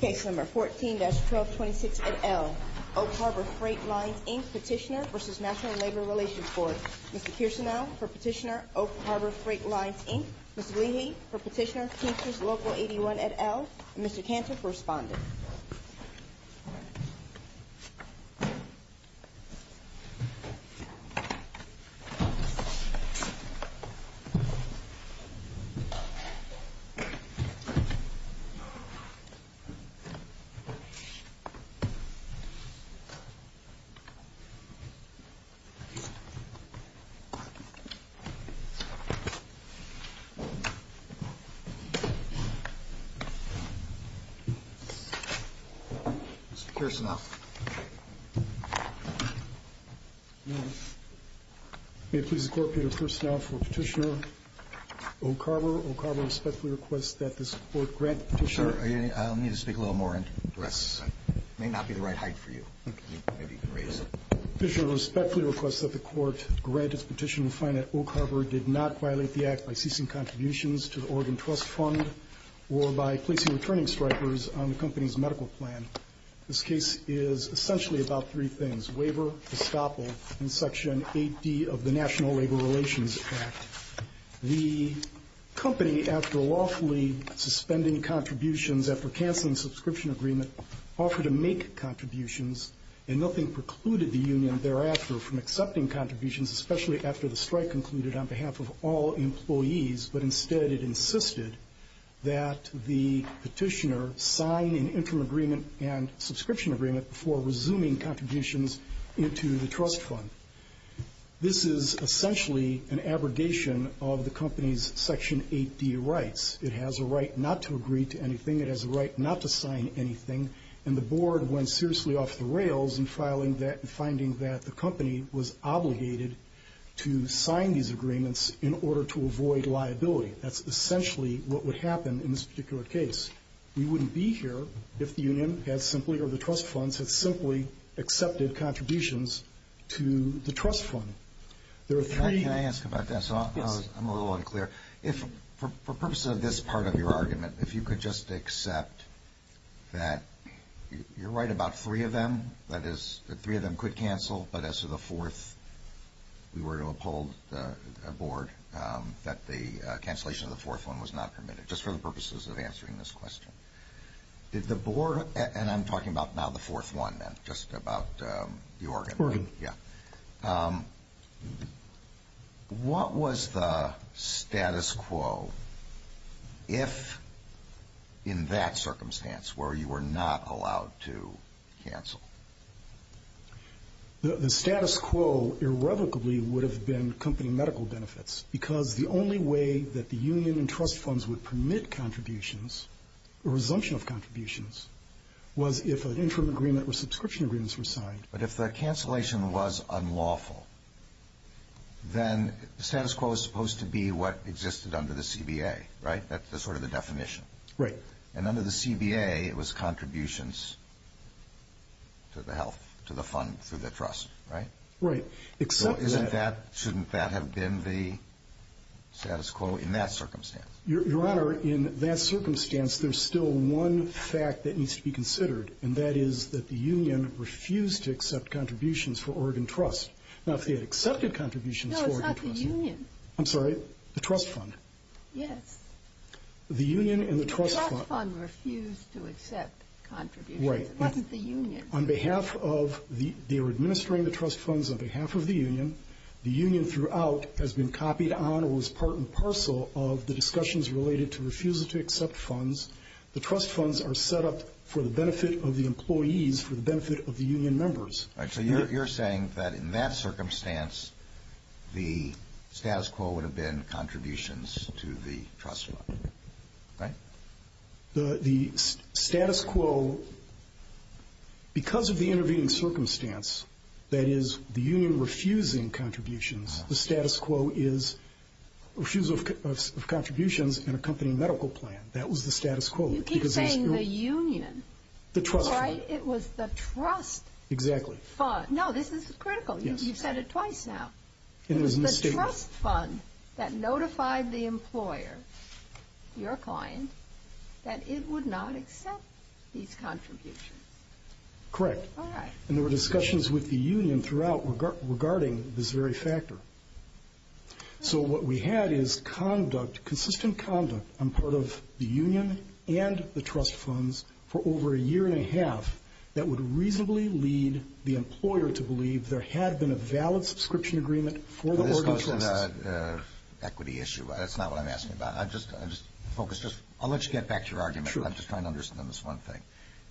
Case No. 14-1226 et al. Oak Harbor Freight Lines, Inc. Petitioner v. National Labor Relations Board. Mr. Kirsten L. for Petitioner, Oak Harbor Freight Lines, Inc. Mr. Lee Lee for Petitioner, Kansas Local 81 et al. Mr. Kansas, Respondent. Mr. Kirsten L. May it please the Court, Peter Kirsten L. for Petitioner. Oak Harbor, Oak Harbor respectfully requests that this Court grant Petitioner... Sir, I'll need to speak a little more. It may not be the right height for you. Petitioner respectfully requests that the Court grant its petition to find that Oak Harbor did not violate the Act by ceasing contributions to the Oregon Trust Fund or by placing returning strikers on the company's medical plan. This case is essentially about three things. Waiver, estoppel, and Section 80 of the National Labor Relations Act. The company, after lawfully suspending contributions after canceling subscription agreement, offered to make contributions and nothing precluded the union thereafter from accepting contributions, especially after the strike concluded on behalf of all employees. But instead it insisted that the petitioner sign an interim agreement and subscription agreement before resuming contributions into the Trust Fund. This is essentially an abrogation of the company's Section 80 rights. It has a right not to agree to anything. It has a right not to sign anything. And the Board went seriously off the rails in finding that the company was obligated to sign these agreements in order to avoid liability. That's essentially what would happen in this particular case. We wouldn't be here if the union had simply, or the Trust Funds, had simply accepted contributions to the Trust Fund. Can I ask about that? I'm a little unclear. For the purpose of this part of your argument, if you could just accept that you're right about three of them, that is, that three of them could cancel, but as to the fourth, you were to uphold the Board that the cancellation of the fourth one was not permitted, just for the purposes of answering this question. Did the Board, and I'm talking about now the fourth one, not just about the organ. Yeah. Okay. What was the status quo if, in that circumstance, where you were not allowed to cancel? The status quo irrevocably would have been company medical benefits because the only way that the union and Trust Funds would permit contributions or resumption of contributions was if an interim agreement or subscription agreements were signed. But if the cancellation was unlawful, then the status quo is supposed to be what existed under the CBA, right? That's sort of the definition. Right. And under the CBA, it was contributions to the health, to the fund, to the trust, right? Right. So shouldn't that have been the status quo in that circumstance? Your Honor, in that circumstance, there's still one fact that needs to be considered, and that is that the union refused to accept contributions for Oregon Trust, not the accepted contributions for Oregon Trust. No, it's not the union. I'm sorry. The Trust Fund. Yes. The union and the Trust Fund. The Trust Fund refused to accept contributions. Right. It wasn't the union. On behalf of the administering the Trust Funds on behalf of the union, the union throughout has been copied on or was part and parcel of the discussions related to refuses to accept funds. The Trust Funds are set up for the benefit of the employees, for the benefit of the union members. All right. So you're saying that in that circumstance, the status quo would have been contributions to the Trust Fund, right? The status quo, because of the intervening circumstance, that is, the union refusing contributions, the status quo is refusal of contributions in a company medical plan. That was the status quo. You keep saying the union. The Trust Fund. Right? It was the Trust Fund. Exactly. No, this is critical. Yes. You've said it twice now. It was the Trust Fund that notified the employer, your client, that it would not accept these contributions. Correct. All right. And there were discussions with the union throughout regarding this very factor. So what we had is conduct, consistent conduct on part of the union and the Trust Funds for over a year and a half that would reasonably lead the employer to believe there had been a valid subscription agreement for the working trust. This comes to the equity issue. That's not what I'm asking about. I'll let you get back to your argument. I'm just trying to understand this one thing.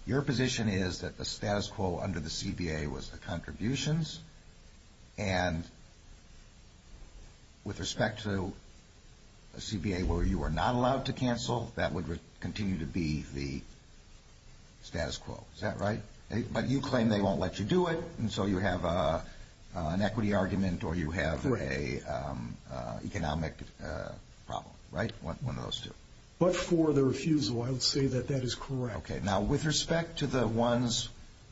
Your position is that the status quo under the CBA was the contributions, and with respect to a CBA where you are not allowed to cancel, that would continue to be the status quo. Is that right? But you claim they won't let you do it, and so you have an equity argument or you have an economic problem. Right? One of those two. But for the refusal, I would say that that is correct. Okay. Now, with respect to the ones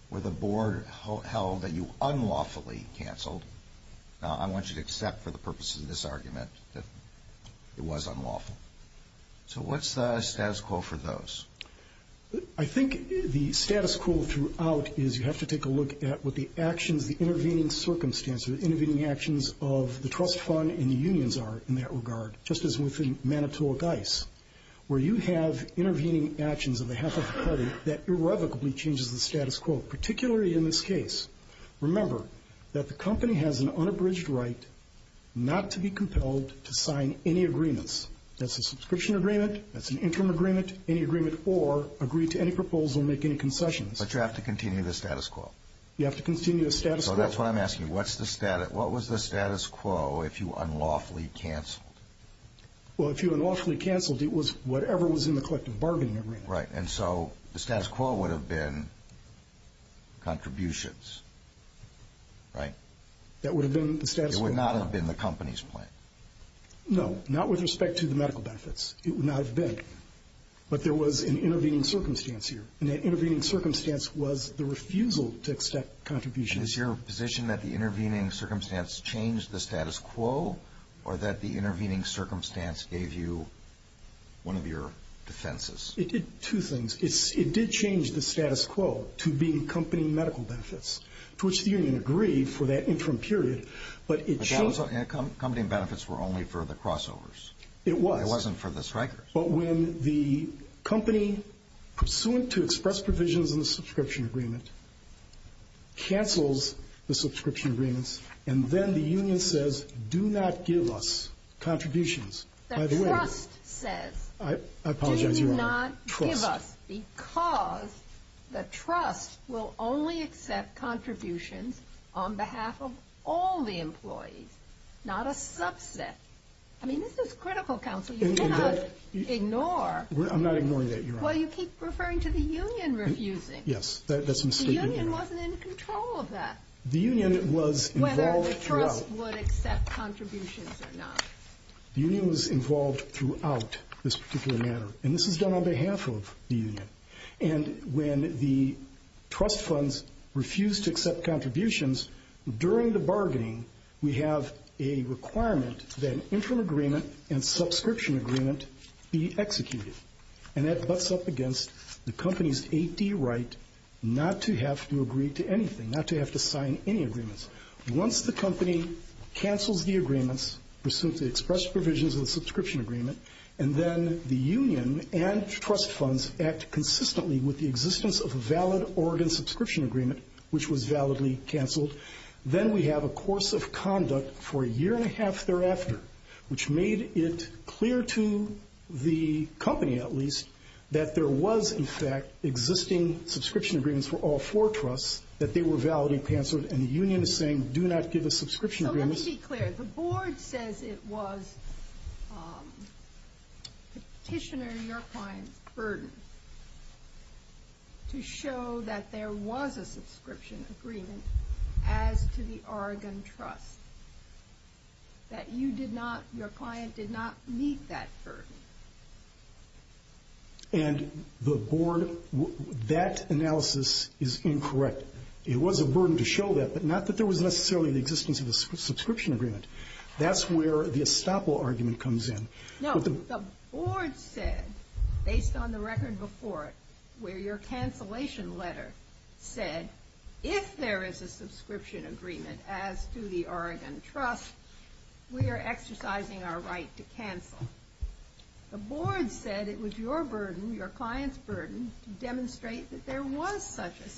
where the board held that you unlawfully canceled, I want you to accept for the purpose of this argument that it was unlawful. So what's the status quo for those? I think the status quo throughout is you have to take a look at what the actions, the intervening circumstances, the intervening actions of the Trust Fund and the unions are in that regard, just as within Manitowoc ICE, where you have intervening actions of the House of Trustees that irrevocably changes the status quo, particularly in this case. Remember that the company has an unabridged right not to be compelled to sign any agreements. That's a subscription agreement, that's an interim agreement, any agreement, or agree to any proposal, make any concessions. But you have to continue the status quo. You have to continue the status quo. So that's why I'm asking, what was the status quo if you unlawfully canceled? Well, if you unlawfully canceled, it was whatever was in the collective bargaining agreement. Right. And so the status quo would have been contributions, right? That would have been the status quo. It would not have been the company's plan. No, not with respect to the medical benefits. It would not have been. But there was an intervening circumstance here, and that intervening circumstance was the refusal to accept contributions. Is your position that the intervening circumstance changed the status quo or that the intervening circumstance gave you one of your defenses? It did two things. It did change the status quo to being company medical benefits, to which the union agreed for that interim period. But those company benefits were only for the crossovers. It was. It wasn't for the strikers. But when the company pursuant to express provisions in the subscription agreement cancels the subscription agreement, and then the union says, do not give us contributions. The trust says, do not give us, because the trust will only accept contributions on behalf of all the employees, not a subset. I mean, this is critical counseling. Ignore. I'm not ignoring that, Your Honor. Well, you keep referring to the union refusing. Yes, that's mistaken. The union wasn't in control of that. The union was involved throughout. Whether the trust would accept contributions or not. The union was involved throughout this particular matter, and this was done on behalf of the union. And when the trust funds refused to accept contributions during the bargaining, we have a requirement that an interim agreement and subscription agreement be executed. And that butts up against the company's 8D right not to have to agree to anything, not to have to sign any agreements. Once the company cancels the agreements, pursuant to express provisions of the subscription agreement, and then the union and trust funds act consistently with the existence of a valid Oregon subscription agreement, which was validly canceled, then we have a course of conduct for a year and a half thereafter, which made it clear to the company, at least, that there was, in fact, existing subscription agreements for all four trusts, that they were validly canceled, and the union is saying do not give a subscription agreement. Let me be clear. The board says it was petitioner and your client's burden to show that there was a subscription agreement as to the Oregon trust, that you did not, your client did not meet that burden. And the board, that analysis is incorrect. It was a burden to show that, but not that there was necessarily an existence of a subscription agreement. That's where the estoppel argument comes in. No, the board said, based on the record before it, where your cancellation letter said, if there is a subscription agreement as to the Oregon trust, we are exercising our right to cancel. The board said it was your burden, your client's burden, to demonstrate that there was such a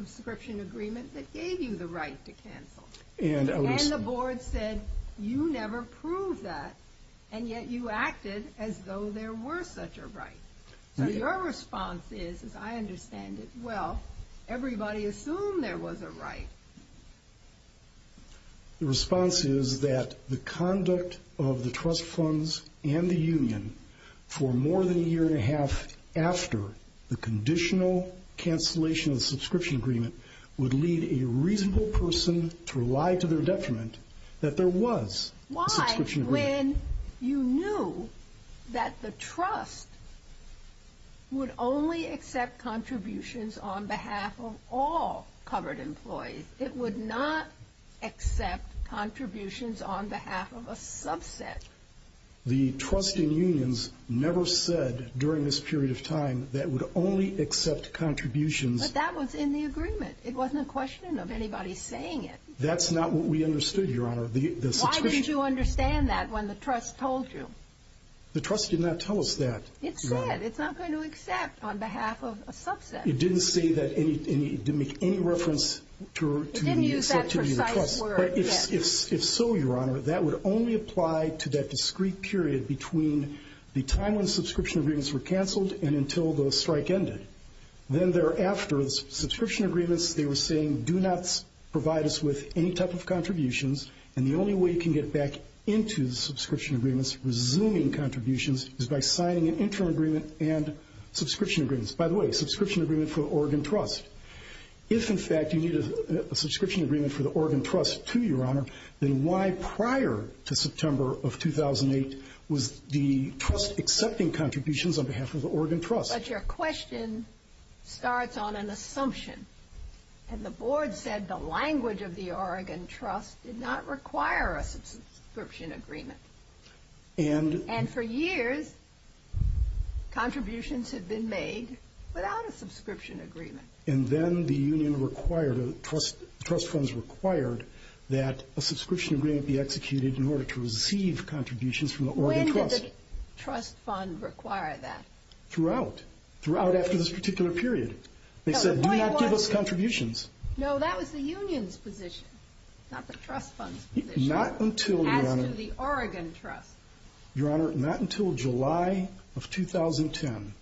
subscription agreement that gave you the right to cancel. And the board said you never proved that, and yet you acted as though there were such a right. Your response is, as I understand it, well, everybody assumed there was a right. The response is that the conduct of the trust funds and the union for more than a year and a half after the conditional cancellation of the subscription agreement would lead a reasonable person to rely to their detriment that there was a subscription agreement. When you knew that the trust would only accept contributions on behalf of all covered employees, it would not accept contributions on behalf of a subset. The trust in unions never said during this period of time that it would only accept contributions. But that was in the agreement. It wasn't a question of anybody saying it. That's not what we understood, Your Honor. Why did you understand that when the trust told you? The trust did not tell us that. It said it's not going to accept on behalf of a subset. It didn't say that. It didn't make any reference to the acceptability of the trust. It didn't use that precise word. If so, Your Honor, that would only apply to that discrete period between the time when the subscription agreements were canceled and until the strike ended. Then thereafter, the subscription agreements, they were saying, do not provide us with any type of contributions, and the only way you can get back into the subscription agreements, resuming contributions, is by signing an interim agreement and subscription agreements. By the way, subscription agreement for Oregon Trust. If, in fact, you needed a subscription agreement for the Oregon Trust, too, Your Honor, then why prior to September of 2008 was the trust accepting contributions on behalf of the Oregon Trust? But your question starts on an assumption, and the board said the language of the Oregon Trust did not require a subscription agreement. And for years, contributions had been made without a subscription agreement. And then the union required, the trust funds required, that a subscription agreement be executed in order to receive contributions from the Oregon Trust. When did the trust fund require that? Throughout. Throughout after this particular period. They said, do not give us contributions. No, that was the union's position, not the trust fund's position. Not until, Your Honor. After the Oregon Trust. Your Honor, not until July of 2010,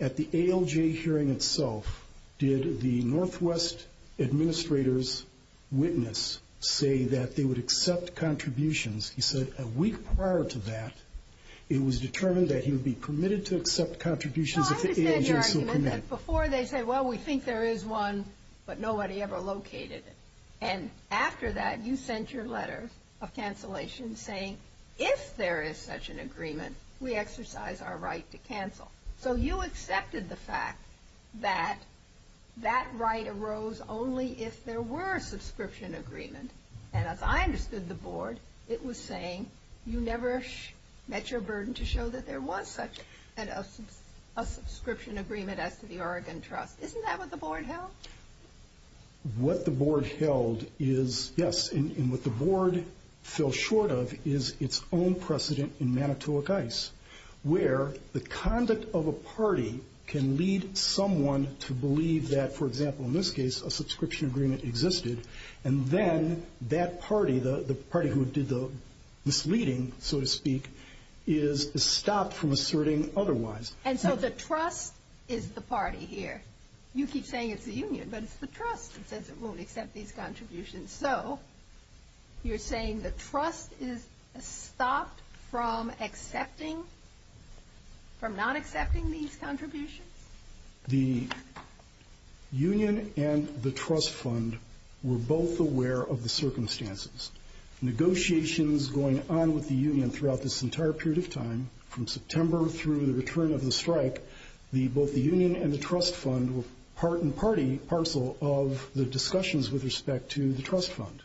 at the ALJ hearing itself, did the Northwest Administrator's witness say that they would accept contributions. He said a week prior to that, it was determined that he would be permitted to accept contributions. Before they say, well, we think there is one, but nobody ever located it. And after that, you sent your letter of cancellation saying, if there is such an agreement, we exercise our right to cancel. So you accepted the fact that that right arose only if there were subscription agreements. And as I understood the board, it was saying, you never met your burden to show that there was such a subscription agreement as to the Oregon Trust. Isn't that what the board held? What the board held is, yes. And what the board fell short of is its own precedent in Manitowoc Ice, where the conduct of a party can lead someone to believe that, for example, in this case, a subscription agreement existed. And then that party, the party who did the misleading, so to speak, is stopped from asserting otherwise. And so the trust is the party here. You keep saying it's the union, but it's the trust that says it won't accept these contributions. So you're saying the trust is stopped from accepting, from not accepting these contributions? The union and the trust fund were both aware of the circumstances. Negotiations going on with the union throughout this entire period of time, from September through the return of the strike, both the union and the trust fund were part and parcel of the discussions with respect to the trust fund.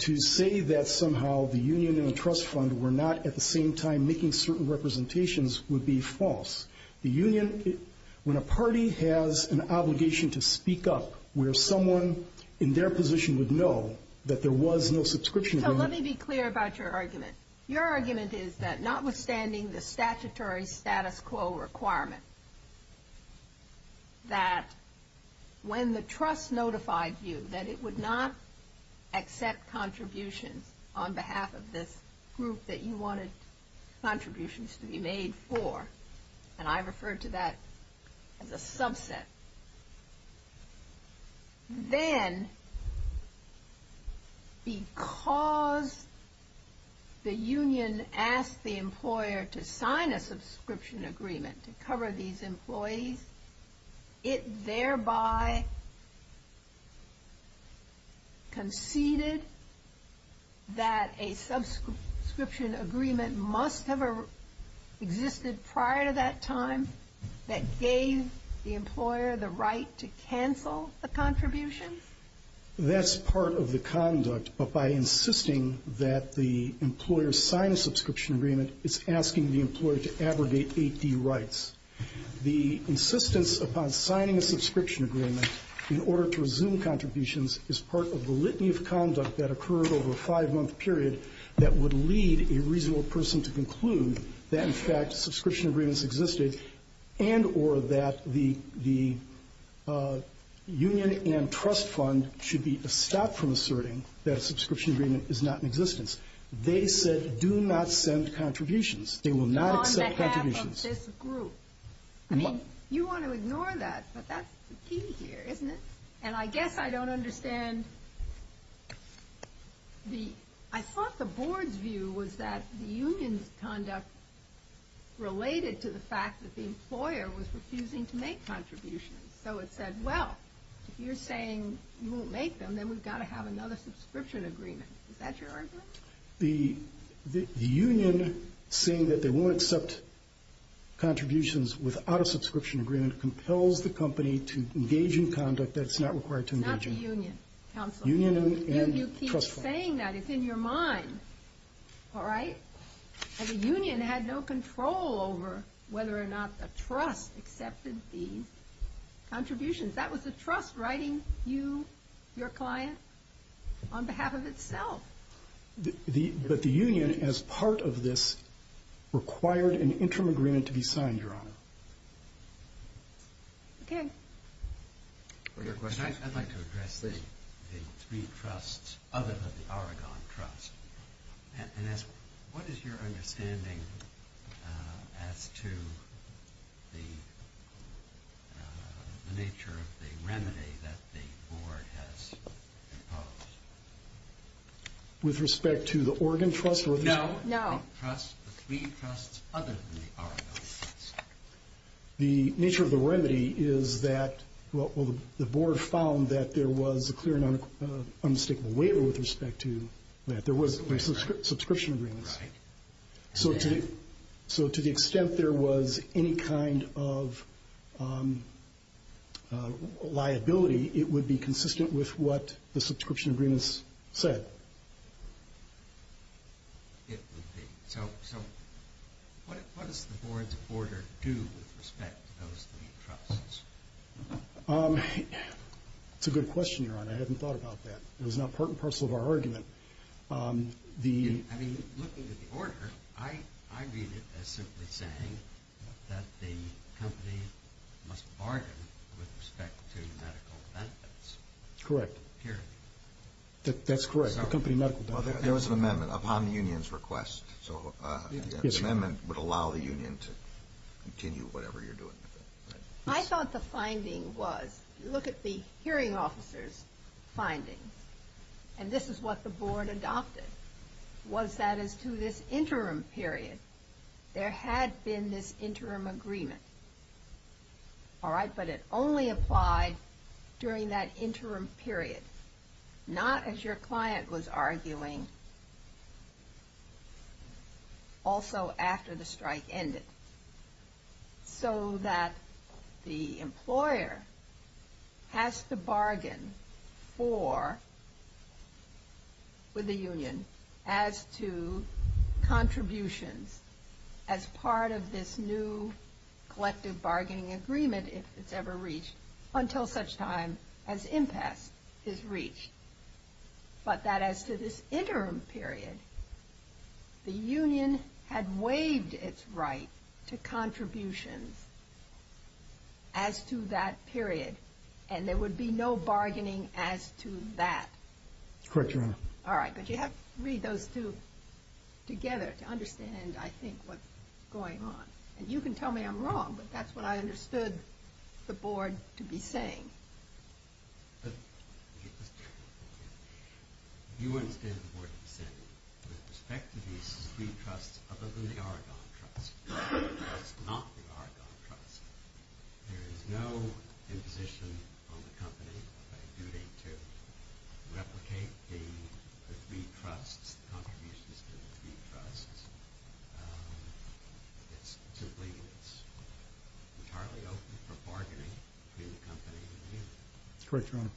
To say that somehow the union and the trust fund were not at the same time making certain representations would be false. The union, when a party has an obligation to speak up where someone in their position would know that there was no subscription agreement. So let me be clear about your argument. Your argument is that notwithstanding the statutory status quo requirement, that when the trust notified you that it would not accept contributions on behalf of the group that you wanted contributions to be made for, and I refer to that as a subset, then because the union asked the employer to sign a subscription agreement to cover these employees, it thereby conceded that a subscription agreement must have existed prior to that time that gave the employer the right to cancel a contribution? That's part of the conduct, but by insisting that the employer sign a subscription agreement, it's asking the employer to abrogate AP rights. The insistence upon signing a subscription agreement in order to resume contributions is part of the litany of conduct that occurred over a five-month period that would lead a reasonable person to conclude that in fact subscription agreements existed and or that the union and trust fund should be stopped from asserting that a subscription agreement is not in existence. They said do not send contributions. They will not accept contributions. On behalf of this group. You want to ignore that, but that's the key here, isn't it? And I guess I don't understand. I thought the board's view was that the union's conduct related to the fact that the employer was refusing to make contributions. So it said, well, if you're saying you won't make them, then we've got to have another subscription agreement. Is that your argument? The union saying that they won't accept contributions without a subscription agreement compels the company to engage in conduct that's not required to engage in. Not the union. Union and trust fund. You keep saying that. It's in your mind. All right? And the union had no control over whether or not the trust accepted the contributions. That was the trust writing you, your client, on behalf of itself. But the union, as part of this, required an interim agreement to be signed, Your Honor. Okay. I'd like to address the three trusts other than the Argonne Trust. Vanessa, what is your understanding as to the nature of the remedy that the board has proposed? With respect to the Argonne Trust? No. No. The three trusts other than the Argonne Trust. The nature of the remedy is that the board found that there was a clear and unmistakable waiver with respect to that there was a subscription agreement. Right. So to the extent there was any kind of liability, it would be consistent with what the subscription agreement said. It would be. So what does the board's order do with respect to those three trusts? That's a good question, Your Honor. I hadn't thought about that. It was not part and parcel of our argument. I mean, looking at the order, I read it as simply saying that the company must bargain with respect to medical benefits. Correct. That's correct. There was an amendment upon the union's request. So the amendment would allow the union to continue whatever you're doing. I thought the finding was, look at the hearing officer's finding, and this is what the board adopted, was that as to this interim period, there had been this interim agreement. All right. But it only applied during that interim period, not as your client was arguing, also after the strike ended. So that the employer has to bargain for the union as to contributions as part of this new collective bargaining agreement, if it's ever reached, until such time as impact is reached. But that as to this interim period, the union had waived its right to contributions as to that period, and there would be no bargaining as to that. Correct, Your Honor. All right. But you have to read those two together to understand, I think, what's going on. And you can tell me I'm wrong, but that's what I understood the board to be saying. You understand what the board is saying. With respect to the Speed Trust, other than the Argonne Trust, which is not the Argonne Trust, there is no imposition on the company by duty to replicate the Speed Trust contributions to the Speed Trust. It's simply entirely open for bargaining between the company and the union. Switch, Your Honor.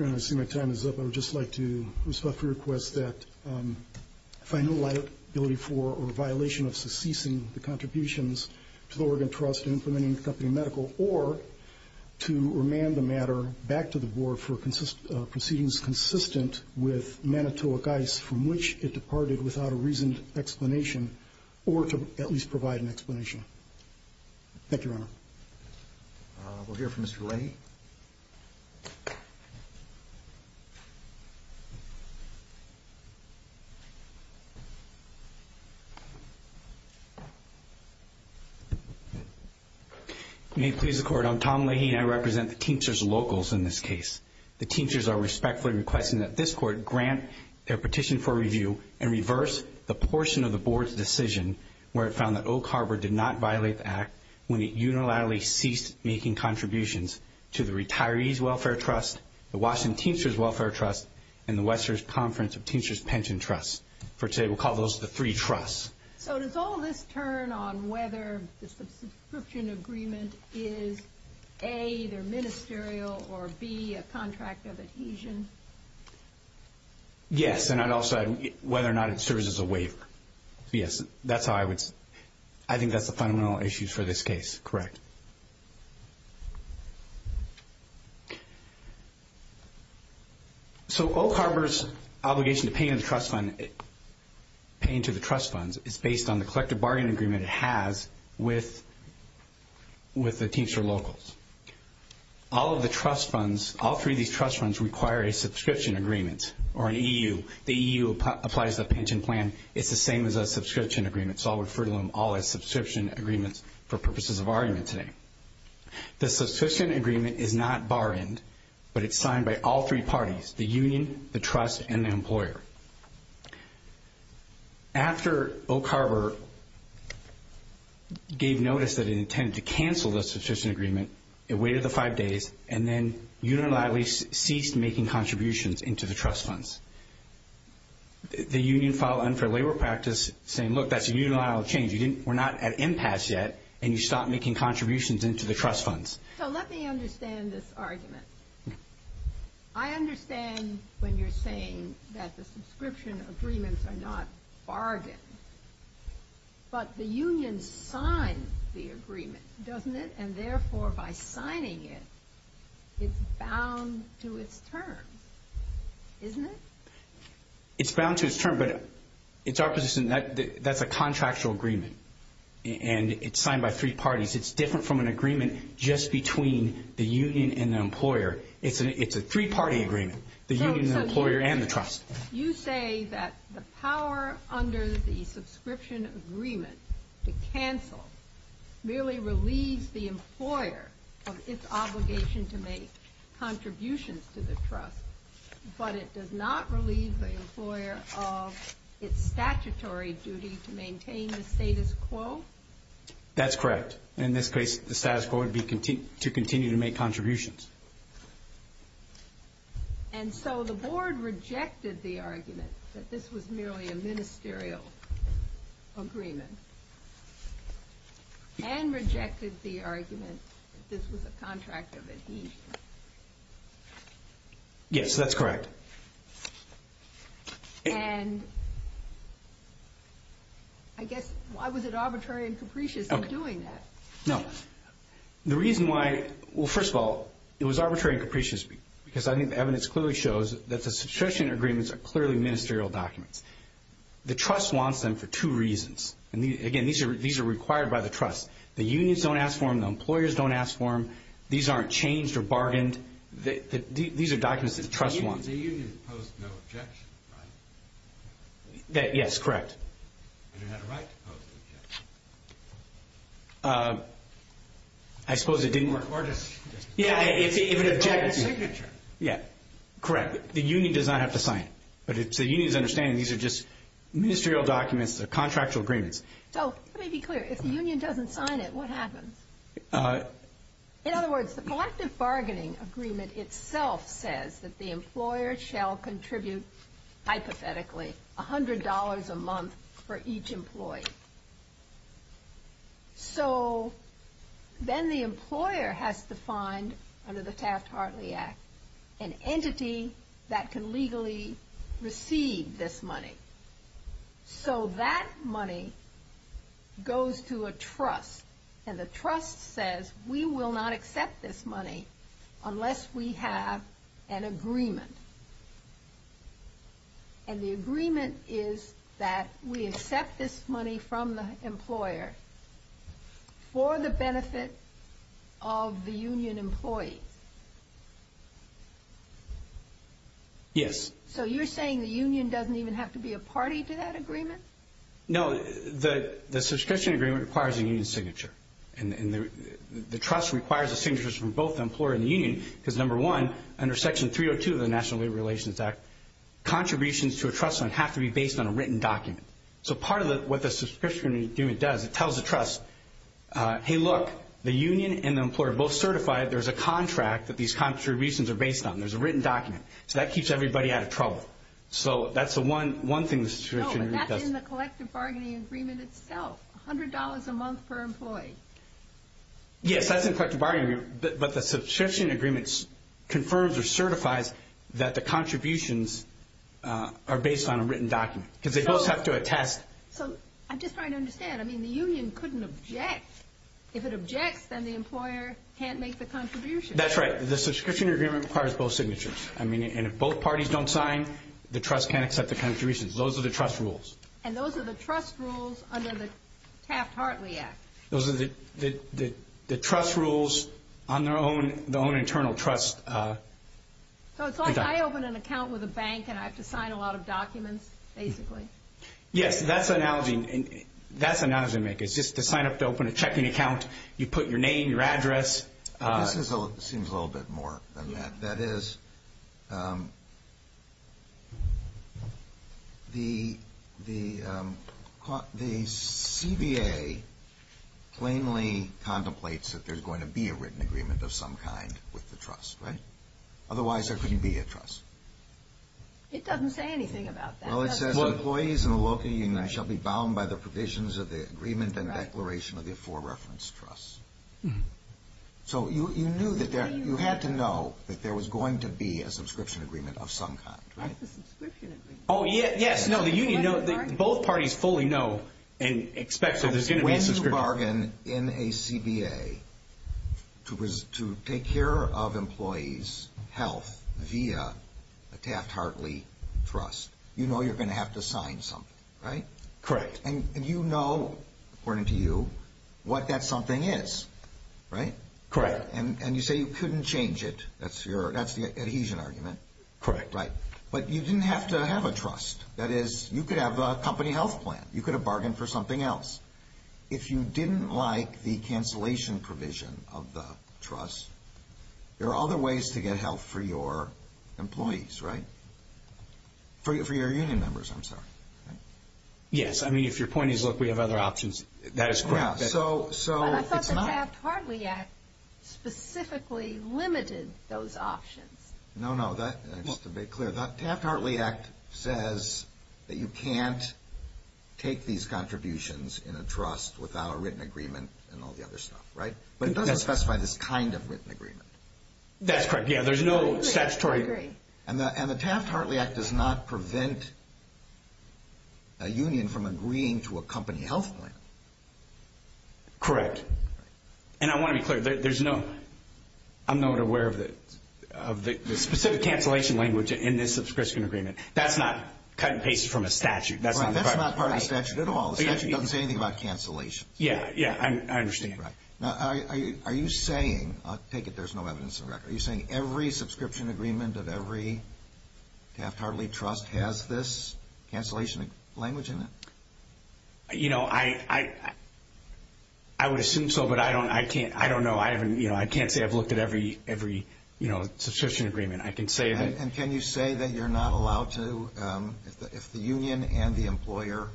Your Honor, I see my time is up. I would just like to respectfully request that I find no liability for or violation of secession of the contributions to the Argonne Trust and from any company medical, or to remand the matter back to the board for proceedings consistent with Manitowoc guidance from which it departed without a reasoned explanation, or to at least provide an explanation. Thank you, Your Honor. We'll hear from Mr. Rennie. Thank you, Your Honor. May it please the Court, I'm Tom Lahine. I represent the teachers' locals in this case. The teachers are respectfully requesting that this Court grant their petition for review and reverse the portion of the board's decision where it found that Oak Harbor did not violate the act when it unilaterally ceased making contributions to the Retirees' Welfare Trust, the Washington Teachers' Welfare Trust, and the Western Conference of Teachers' Pension Trust. For today, we'll call those the three trusts. So does all of this turn on whether the subscription agreement is, A, either ministerial or, B, a contract of adhesion? Yes, and I'd also add whether or not it serves as a waiver. Yes, that's how I would say. I think that's the fundamental issues for this case. Correct. So Oak Harbor's obligation to pay into the trust fund is based on the collective bargaining agreement it has with the teacher locals. All of the trust funds, all three of these trust funds require a subscription agreement or an EU. The EU applies the pension plan. It's the same as a subscription agreement. So I'll refer to them all as subscription agreements for purposes of argument today. The subscription agreement is not barred, but it's signed by all three parties, the union, the trust, and the employer. After Oak Harbor gave notice that it intended to cancel the subscription agreement, it waited the five days, and then unilaterally ceased making contributions into the trust funds. The union filed an unfair labor practice saying, look, that's a unilateral change. We're not at impasse yet, and you stop making contributions into the trust funds. So let me understand this argument. I understand when you're saying that the subscription agreements are not bargained, but the union signs the agreement, doesn't it? And therefore, by signing it, it's bound to its terms, isn't it? It's bound to its terms, but it's our position that that's a contractual agreement. And it's signed by three parties. It's different from an agreement just between the union and the employer. It's a three-party agreement, the union, the employer, and the trust. You say that the power under the subscription agreement to cancel merely relieves the employer of its obligation to make contributions to the trust, but it does not relieve the employer of its statutory duty to maintain the status quo? That's correct. In this case, the status quo would be to continue to make contributions. And so the board rejected the argument that this was merely a ministerial agreement, and rejected the argument that this was a contract of a deed. Yes, that's correct. And I guess, why was it arbitrary and capricious in doing that? No. The reason why, well, first of all, it was arbitrary and capricious, because I think the evidence clearly shows that the subscription agreements are clearly ministerial documents. The trust wants them for two reasons. Again, these are required by the trust. The unions don't ask for them. The employers don't ask for them. These aren't changed or bargained. These are documents that the trust wants. The union opposed no objection. Yes, correct. And the rights opposed objection. I suppose it didn't work. Yeah, if it objected. Yeah, correct. The union does not have to sign. But the unions understand these are just ministerial documents, contractual agreements. So, let me be clear. If the union doesn't sign it, what happens? In other words, the collective bargaining agreement itself says that the employer shall contribute, hypothetically, $100 a month for each employee. So, then the employer has to find, under the Fast Heartly Act, an entity that can legally receive this money. So, that money goes to a trust. And the trust says, we will not accept this money unless we have an agreement. And the agreement is that we accept this money from the employer for the benefit of the union employee. Yes. So, you're saying the union doesn't even have to be a party to that agreement? No. The subscription agreement requires a union signature. And the trust requires the signatures from both the employer and the union because, number one, under Section 302 of the National Labor Relations Act, contributions to a trust fund have to be based on a written document. So, part of what the subscription agreement does, it tells the trust, hey, look, the union and the employer are both certified. There's a contract that these contributions are based on. There's a written document. So, that keeps everybody out of trouble. So, that's the one thing the subscription agreement does. No, but that's in the collective bargaining agreement itself, $100 a month per employee. Yes, that's in collective bargaining. But the subscription agreement confirms or certifies that the contributions are based on a written document because they both have to attest. So, I'm just trying to understand. I mean, the union couldn't object. If it objects, then the employer can't make the contribution. That's right. The subscription agreement requires both signatures. I mean, and if both parties don't sign, the trust can't accept the contributions. Those are the trust rules. And those are the trust rules under the Taft-Hartley Act. Those are the trust rules on their own internal trust. So, it's like I open an account with a bank and I have to sign a lot of documents, basically. Yes, that's analyzing. That's analyzing, Meg. It's just to sign up to open a checking account, you put your name, your address. It seems a little bit more than that. That is, the CBA plainly contemplates that there's going to be a written agreement of some kind with the trust. Right? Otherwise, there couldn't be a trust. It doesn't say anything about that. Well, it says, employees in a locating shall be bound by the provisions of the agreement and declaration of the for-reference trust. So, you knew that you had to know that there was going to be a subscription agreement of some kind, right? Oh, yes. No, the union, both parties fully know and expect that there's going to be a subscription agreement. If there was a bargain in a CBA to take care of employees' health via a Taft-Hartley trust, you know you're going to have to sign something, right? Correct. Yes, and you know, according to you, what that something is, right? Correct. And you say you couldn't change it. That's the adhesion argument. Correct. Right. But you didn't have to have a trust. That is, you could have a company health plan. You could have bargained for something else. If you didn't like the cancellation provision of the trust, there are other ways to get help for your employees, right? For your union members, I'm sorry. Yes, I mean, if your point is, look, we have other options, that is correct. I thought the Taft-Hartley Act specifically limited those options. No, no, that's a bit clear. The Taft-Hartley Act says that you can't take these contributions in a trust without a written agreement and all the other stuff, right? But it doesn't specify this kind of written agreement. That's correct. Yeah, there's no statutory agreement. And the Taft-Hartley Act does not prevent a union from agreeing to a company health plan. Correct. And I want to be clear, there's no, I'm not aware of the specific cancellation language in this subscription agreement. That's not cut and paste from a statute. That's not part of the statute at all. The statute doesn't say anything about cancellation. Yeah, yeah, I understand. Right. Are you saying, I'll take it there's no evidence in the record, are you saying every subscription agreement that every Taft-Hartley trust has this cancellation language in it? You know, I would assume so, but I don't know. You know, I can't say I've looked at every, you know, subscription agreement. And can you say that you're not allowed to, if the union and the employer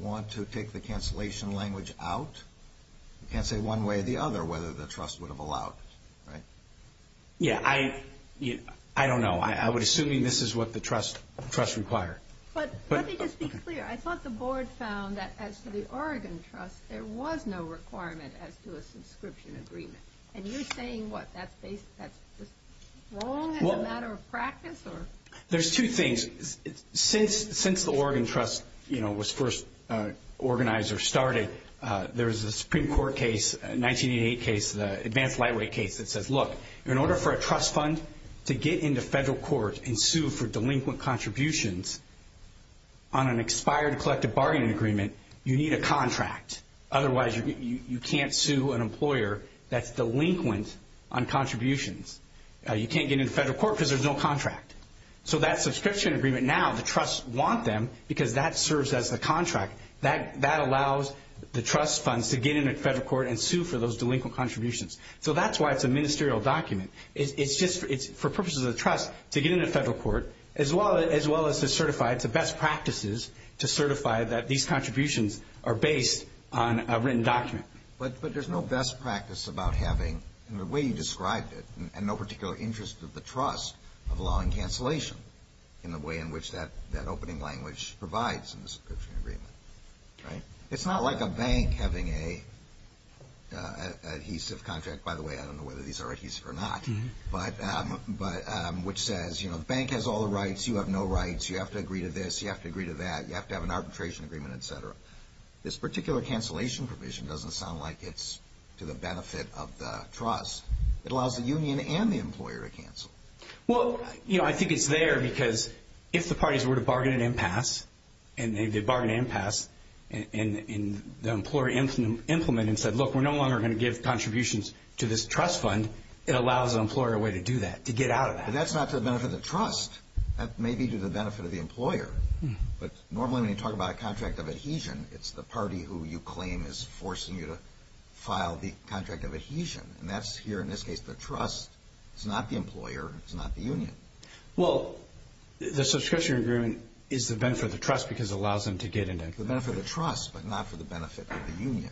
want to take the cancellation language out? I can't say one way or the other whether the trust would have allowed it, right? Yeah, I don't know. I would assume this is what the trust requires. But let me just be clear. I thought the board found that as to the Oregon Trust, there was no requirement as to a subscription agreement. And you're saying what, that's just wrong as a matter of practice? There's two things. Since the Oregon Trust, you know, was first organized or started, there was a Supreme Court case, 1988 case, the advanced lightweight case that said, look, in order for a trust fund to get into federal court and sue for delinquent contributions on an expired collective bargaining agreement, you need a contract. Otherwise, you can't sue an employer that's delinquent on contributions. You can't get into federal court because there's no contract. So that subscription agreement now, the trusts want them because that serves as the contract. That allows the trust funds to get into federal court and sue for those delinquent contributions. So that's why it's a ministerial document. It's just for purposes of the trust to get into federal court as well as to certify, it's the best practices to certify that these contributions are based on a written document. But there's no best practice about having, in the way you described it, and no particular interest of the trust of allowing cancellation in the way in which that opening language provides. It's not like a bank having an adhesive contract. By the way, I don't know whether these are adhesive or not, but which says, you know, the bank has all the rights. You have no rights. You have to agree to this. You have to agree to that. You have to have an arbitration agreement, et cetera. This particular cancellation provision doesn't sound like it's to the benefit of the trust. It allows the union and the employer to cancel. Well, you know, I think it's there because if the parties were to bargain an impasse, and they bargained an impasse, and the employer implemented and said, look, we're no longer going to give contributions to this trust fund, it allows the employer a way to do that, to get out of that. That's not for the benefit of the trust. That may be to the benefit of the employer. But normally when you talk about a contract of adhesion, it's the party who you claim is forcing you to file the contract of adhesion. And that's here, in this case, the trust. It's not the employer. It's not the union. Well, the subscription agreement is the benefit of the trust because it allows them to get into the benefit of the trust, but not for the benefit of the union.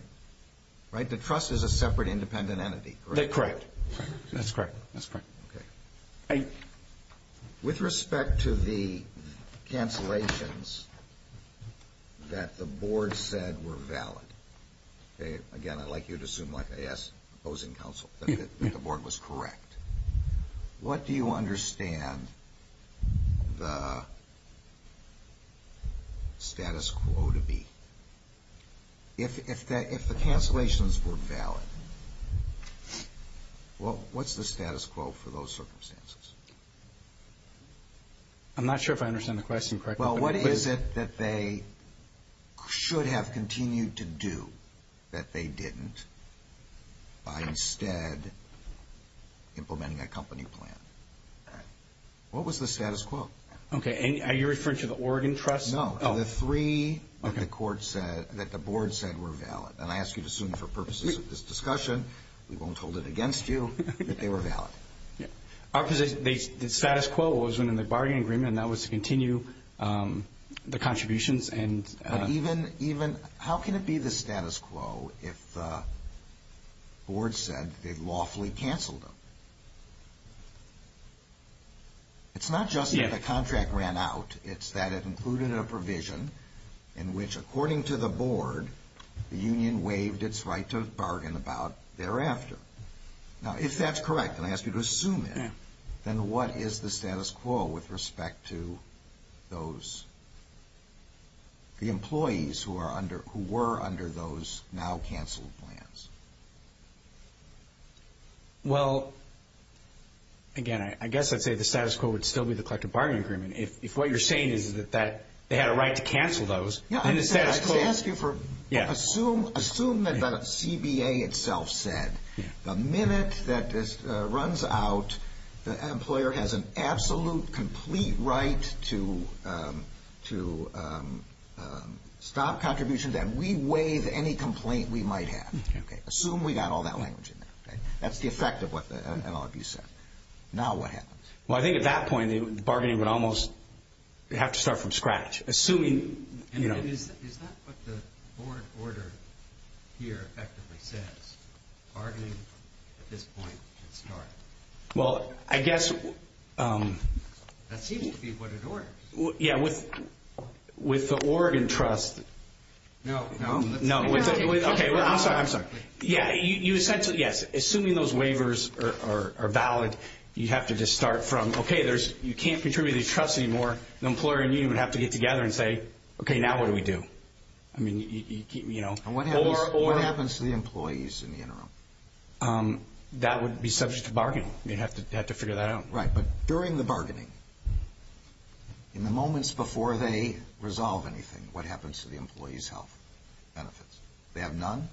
Right? The trust is a separate independent entity. Correct. That's correct. That's correct. Okay. With respect to the cancellations that the board said were valid, okay, again, like you'd assume, like I asked opposing counsel, that the board was correct. What do you understand the status quo to be? If the cancellations were valid, what's the status quo for those circumstances? I'm not sure if I understand the question correctly. Well, what is it that they should have continued to do that they didn't by instead implementing a company plan? What was the status quo? Okay, are you referring to the Oregon trust? No, the three that the board said were valid. And I ask you to assume for purposes of this discussion, we won't hold it against you, that they were valid. The status quo was when in the bargain agreement, and that was to continue the contributions. How can it be the status quo if the board said they'd lawfully cancel them? It's not just that the contract ran out, it's that it included a provision in which, according to the board, the union waived its right to bargain about thereafter. Now, if that's correct, and I ask you to assume that, then what is the status quo with respect to the employees who were under those now-canceled plans? Well, again, I guess I'd say the status quo would still be the collective bargaining agreement. If what you're saying is that they had a right to cancel those, then the status quo… Assume that the CBA itself said the minute that this runs out, the employer has an absolute, complete right to stop contributions and we waive any complaint we might have. Assume we got all that language in there. That's the effect of what all of you said. Now what happens? Well, I think at that point, the bargaining would almost have to start from scratch. Is that what the board order here effectively says? Bargaining at this point should start. Well, I guess… That seems to be what it orders. Yeah, with the Oregon Trust… No, no. No, okay, I'm sorry, I'm sorry. Yeah, you essentially, yes, assuming those waivers are valid, you have to just start from, okay, you can't contribute to the trust anymore, the employer and you would have to get together and say, okay, now what do we do? What happens to the employees in the interim? That would be subject to bargaining. You'd have to figure that out. Right, but during the bargaining, in the moments before they resolve anything, what happens to the employee's health benefits? They have none?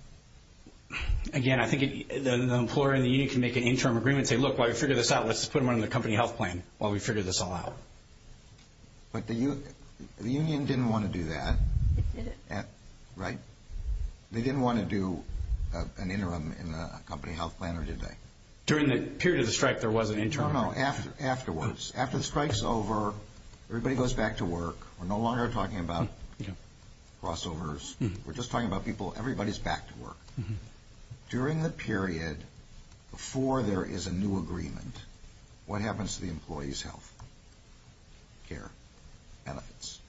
Again, I think the employer and the union can make an interim agreement and say, look, while you figure this out, let's just put them on the company health plan while we figure this all out. But the union didn't want to do that, right? They didn't want to do an interim in the company health plan, or did they? During the period of the strike, there was an interim. No, no, afterwards. After the strike's over, everybody goes back to work. We're no longer talking about crossovers. We're just talking about people, everybody's back to work. During the period before there is a new agreement, what happens to the employee's health care benefits?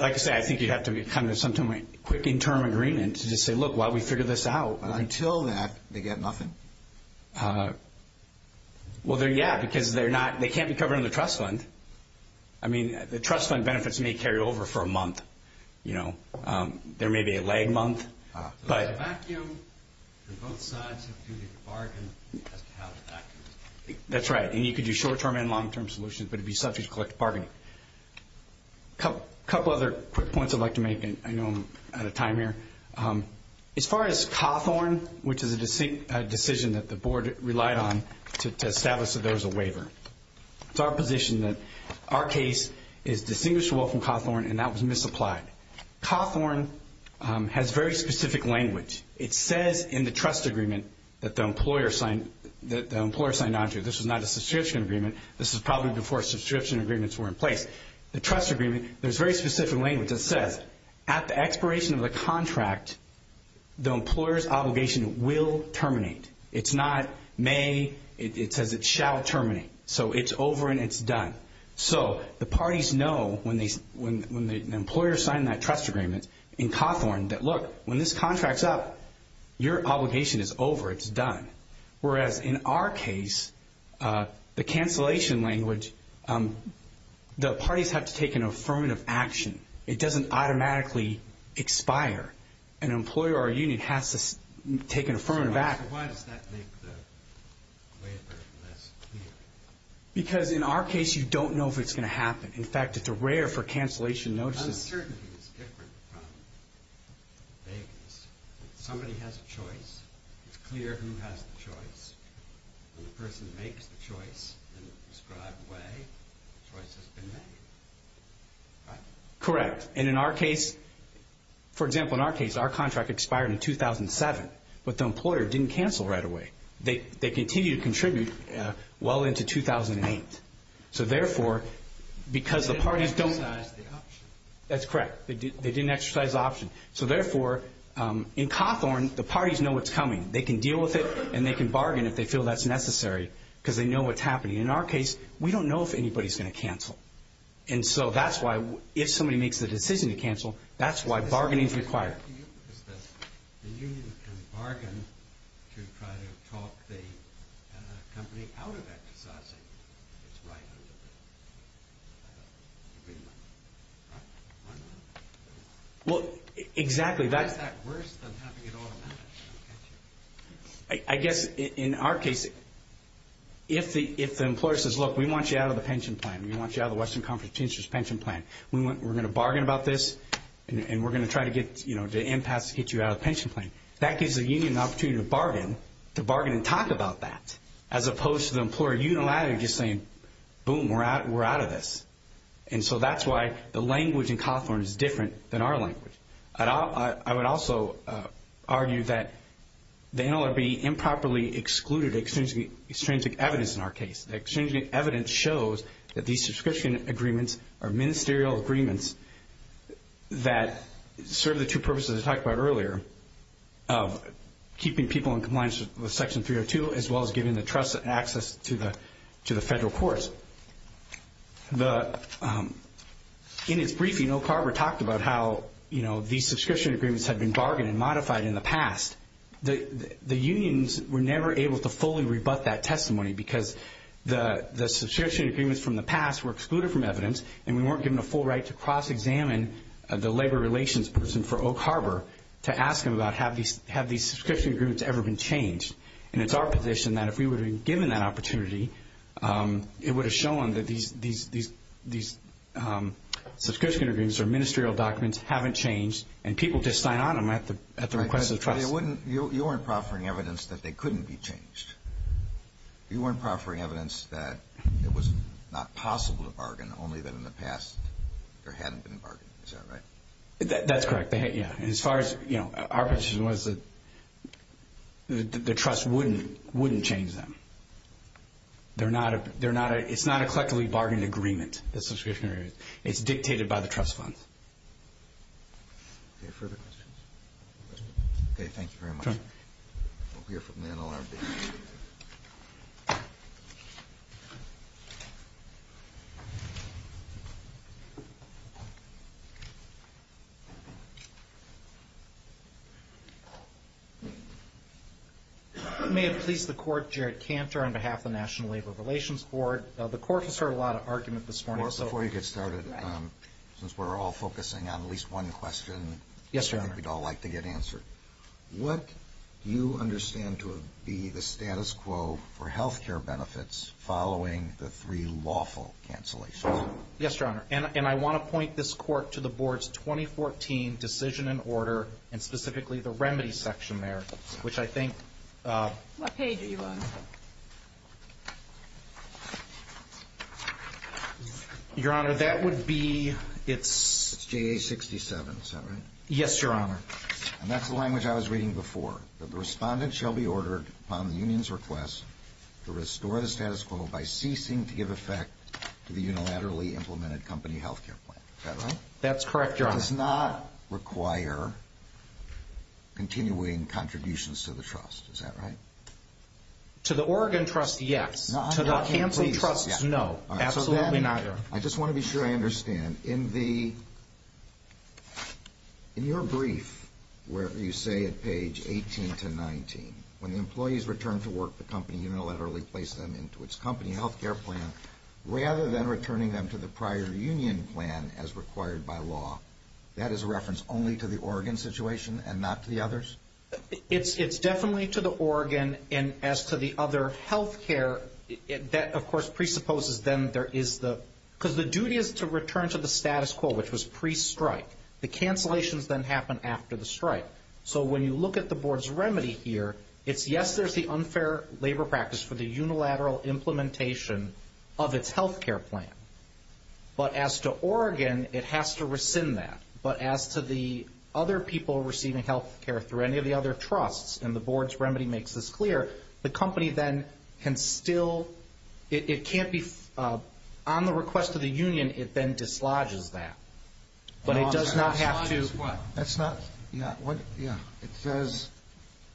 Like I said, I think you have to come to something like a quick interim agreement to just say, look, while we figure this out. Until that, they get nothing? Well, yeah, because they can't be covered in the trust fund. I mean, the trust fund benefits may carry over for a month. You know, there may be a lag month. But a vacuum on both sides of the bargain. That's right, and you can do short-term and long-term solutions, but it would be sufficient to collect a bargain. A couple other quick points I'd like to make, and I know I'm out of time here. As far as Cawthorn, which is a decision that the board relied on to establish that there was a waiver. It's our position that our case is distinguished well from Cawthorn, and that was misapplied. Cawthorn has very specific language. It says in the trust agreement that the employer signed on to it. This was not a subscription agreement. This was probably before subscription agreements were in place. The trust agreement, there's very specific language that says, at the expiration of the contract, the employer's obligation will terminate. It's not may, it says it shall terminate. So it's over and it's done. So the parties know when the employer signed that trust agreement in Cawthorn that, look, when this contract's up, your obligation is over. It's done. Whereas in our case, the cancellation language, the parties have to take an affirmative action. It doesn't automatically expire. An employer or a union has to take an affirmative action. Because in our case, you don't know if it's going to happen. In fact, it's rare for cancellation notices. Correct. Correct. And in our case, for example, in our case, our contract expired in 2007, but the employer didn't cancel right away. They continued to contribute well into 2008. So therefore, because the parties don't... They didn't exercise the option. That's correct. They didn't exercise the option. So therefore, in Cawthorn, the parties know what's coming. They can deal with it and they can bargain if they feel that's necessary because they know what's happening. In our case, we don't know if anybody's going to cancel. And so that's why if somebody makes the decision to cancel, that's why bargaining is required. Well, exactly. I guess in our case, if the employer says, look, we want you out of the pension plan. We want you out of the Western Conference Pension Plan. We're going to bargain about this and we're going to try to get, you know, the impact to get you out of the pension plan. That gives the union an opportunity to bargain, to bargain and talk about that, as opposed to the employer unilaterally just saying, boom, we're out of this. And so that's why the language in Cawthorn is different than our language. I would also argue that they know it would be improperly excluded extrinsic evidence in our case. Extrinsic evidence shows that these subscription agreements are ministerial agreements that serve the two purposes I talked about earlier, of keeping people in compliance with Section 302 as well as giving the trust and access to the federal courts. In his briefing, O'Carver talked about how, you know, these subscription agreements have been bargained and modified in the past. The unions were never able to fully rebut that testimony because the subscription agreements from the past were excluded from evidence and we weren't given the full right to cross-examine the labor relations person for O'Carver to ask him about have these subscription agreements ever been changed. And it's our position that if we would have been given that opportunity, it would have shown that these subscription agreements or ministerial documents haven't changed and people just sign on them at the request of the trust. You weren't proffering evidence that they couldn't be changed. You weren't proffering evidence that it was not possible to bargain only that in the past there hadn't been bargains, is that right? That's correct, yeah. And as far as, you know, our position was that the trust wouldn't change them. It's not a collectively bargained agreement, the subscription agreement. It's dictated by the trust fund. Any further questions? Okay, thank you very much. We'll hear from you in a little while. May it please the court, Jarrett Cantor on behalf of the National Labor Relations Court. The court has heard a lot of argument this morning. Before you get started, since we're all focusing on at least one question. Yes, Your Honor. We'd all like to get answered. What do you understand to be the status quo for health care benefits following the three lawful cancellations? Yes, Your Honor. And I want to point this court to the board's 2014 decision and order and specifically the remedy section there, which I think... What page are you on? Your Honor, that would be... It's JA 67, is that right? Yes, Your Honor. And that's the language I was reading before. The respondent shall be ordered upon the union's request to restore the status quo by ceasing to give effect to the unilaterally implemented company health care plan. Is that right? That's correct, Your Honor. Does not require continuing contributions to the trust, is that right? To the Oregon Trust, yes. To the canceled trusts, no. Absolutely not, Your Honor. I just want to be sure I understand. In your brief, where you say at page 18 to 19, when the employees return to work, the company unilaterally placed them into its company health care plan, rather than returning them to the prior union plan as required by law, that is a reference only to the Oregon situation and not the others? It's definitely to the Oregon. And as to the other health care, that, of course, presupposes then there is the... Because the duty is to return to the status quo, which was pre-strike. The cancellations then happen after the strike. So when you look at the board's remedy here, it's yes, there's the unfair labor practice for the unilateral implementation of its health care plan. But as to Oregon, it has to rescind that. But as to the other people receiving health care through any of the other trusts, and the board's remedy makes this clear, the company then can still... It can't be... On the request of the union, it then dislodges that. But it does not have to... That's not... It says,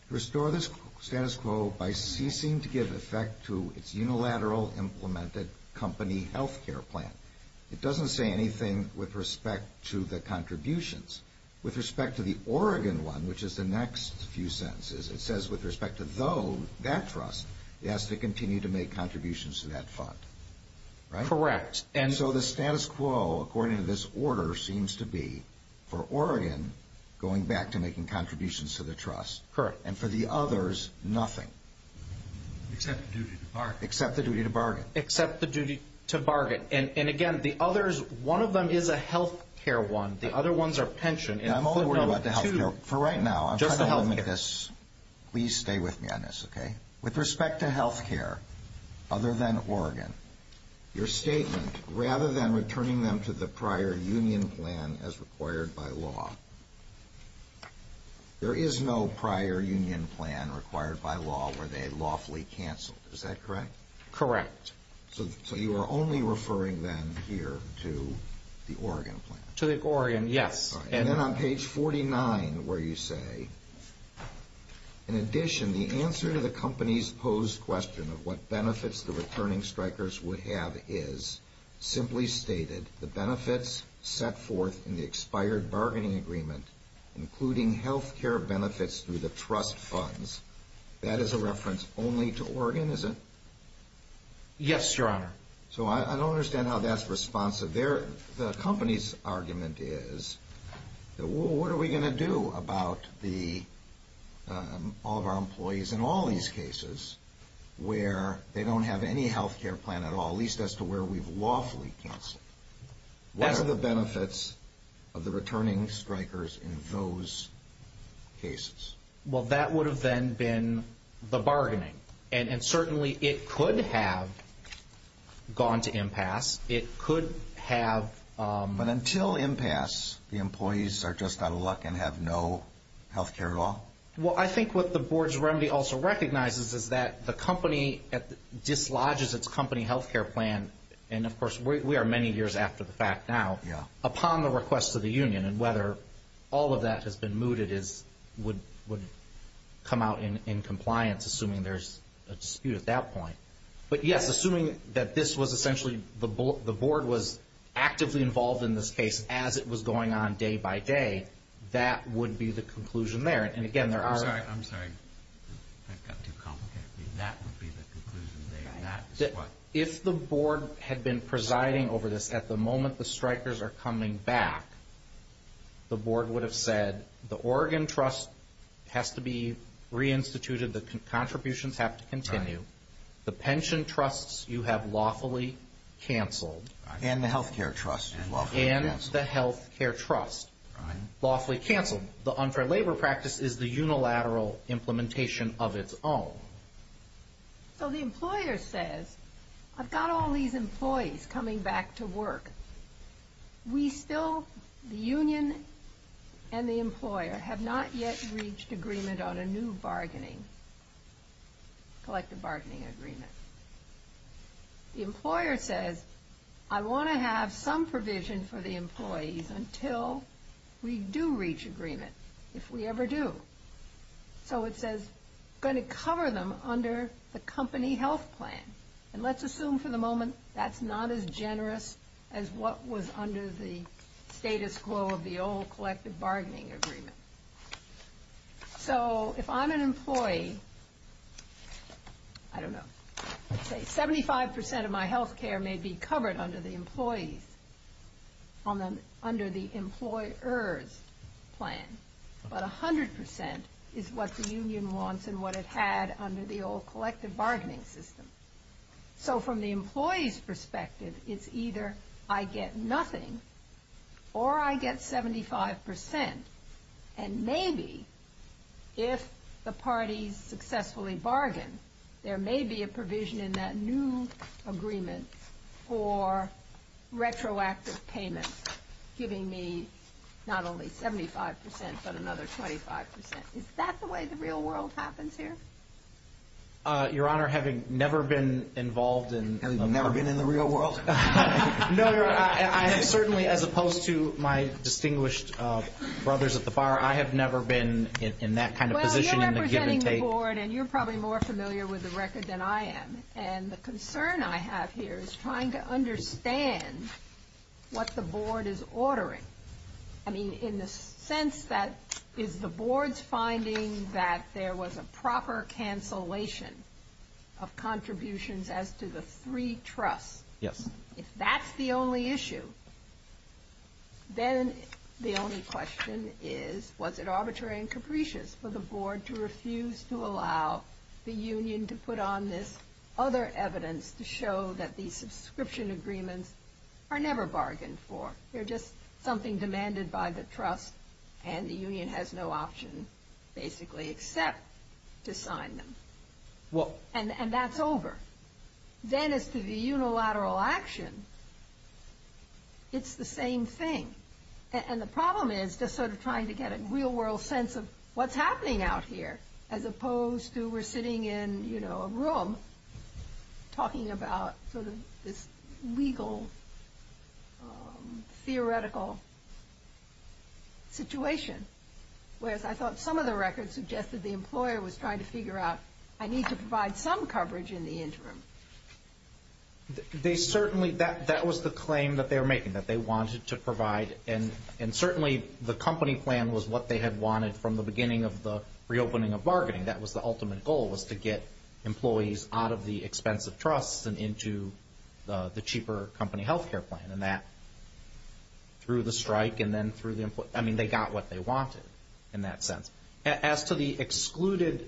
restore the status quo by ceasing to give effect to its unilateral implemented company health care plan. It doesn't say anything with respect to the contributions. With respect to the Oregon one, which is the next few sentences, it says with respect to, though, that trust, it has to continue to make contributions to that fund. Correct. And so the status quo, according to this order, seems to be, for Oregon, going back to making contributions to the trust. Correct. And for the others, nothing. Except the duty to bargain. Except the duty to bargain. And, again, the others, one of them is a health care one. The other ones are pension. I'm only worried about the health care for right now. Just the health care. Please stay with me on this, okay? With respect to health care, other than Oregon, your statement, rather than returning them to the prior union plan as required by law, there is no prior union plan required by law where they lawfully cancel. Is that correct? Correct. So you are only referring, then, here to the Oregon plan. To the Oregon, yes. And then on page 49, where you say, in addition, the answer to the company's posed question of what benefits the returning strikers would have is, simply stated, the benefits set forth in the expired bargaining agreement, including health care benefits through the trust funds, that is a reference only to Oregon, is it? Yes, your honor. So I don't understand how that's responsive. The company's argument is, what are we going to do about all of our employees in all these cases where they don't have any health care plan at all, at least as to where we've lawfully canceled? What are the benefits of the returning strikers in those cases? Well, that would have, then, been the bargaining. And certainly, it could have gone to impasse. It could have... But until impasse, the employees are just out of luck and have no health care law? Well, I think what the board's remedy also recognizes is that the company dislodges its company health care plan, and of course, we are many years after the fact now, upon the request of the union, and whether all of that has been mooted would come out in compliance, assuming there's a dispute at that point. But yes, assuming that this was essentially the board was actively involved in this case as it was going on day by day, that would be the conclusion there. And again, there are... I'm sorry. I got too complicated. That would be the conclusion there. If the board had been presiding over this at the moment the strikers are coming back, the board would have said, the Oregon trust has to be reinstituted, the contributions have to continue. The pension trusts you have lawfully canceled. And the health care trust. And the health care trust. Lawfully canceled. The unfair labor practice is the unilateral implementation of its own. So the employer says, I've got all these employees coming back to work. We still, the union and the employer, have not yet reached agreement on a new bargaining, collective bargaining agreement. The employer says, I want to have some provision for the employees until we do reach agreement, if we ever do. So it says, going to cover them under the company health plan. And let's assume for the moment that's not as generous as what was under the status quo of the old collective bargaining agreement. So if I'm an employee, I don't know, let's say 75% of my health care may be covered under the employees, under the employer's plan. But 100% is what the union wants and what it had under the old collective bargaining system. So from the employee's perspective, it's either I get nothing, or I get 75%. And maybe, if the party successfully bargains, there may be a provision in that new agreement for retroactive payments, giving me not only 75%, but another 25%. Is that the way the real world happens here? Your Honor, having never been involved in... And never been in the real world? No, Your Honor. Certainly, as opposed to my distinguished brothers at the bar, I have never been in that kind of position. Well, you're representing the board, and you're probably more familiar with the record than I am. And the concern I have here is trying to understand what the board is ordering. I mean, in the sense that, is the board's finding that there was a proper cancellation of contributions as to the three trusts? Yes. If that's the only issue, then the only question is, was it arbitrary and capricious for the board to refuse to allow the union to put on this other evidence to show that these subscription agreements are never bargained for? They're just something demanded by the trust, and the union has no option, basically, except to sign them. And that's over. Then, as to the unilateral action, it's the same thing. And the problem is just sort of trying to get a real world sense of what's happening out here, as opposed to we're sitting in, you know, a room talking about sort of this legal, theoretical situation. Whereas I thought some of the records suggested the employer was trying to figure out, I need to provide some coverage in the interim. They certainly, that was the claim that they were making, that they wanted to provide. And certainly, the company plan was what they had wanted from the beginning of the reopening of bargaining. That was the ultimate goal, was to get employees out of the expensive trusts and into the cheaper company health care plan. And that, through the strike and then through the, I mean, they got what they wanted in that sense. As to the excluded...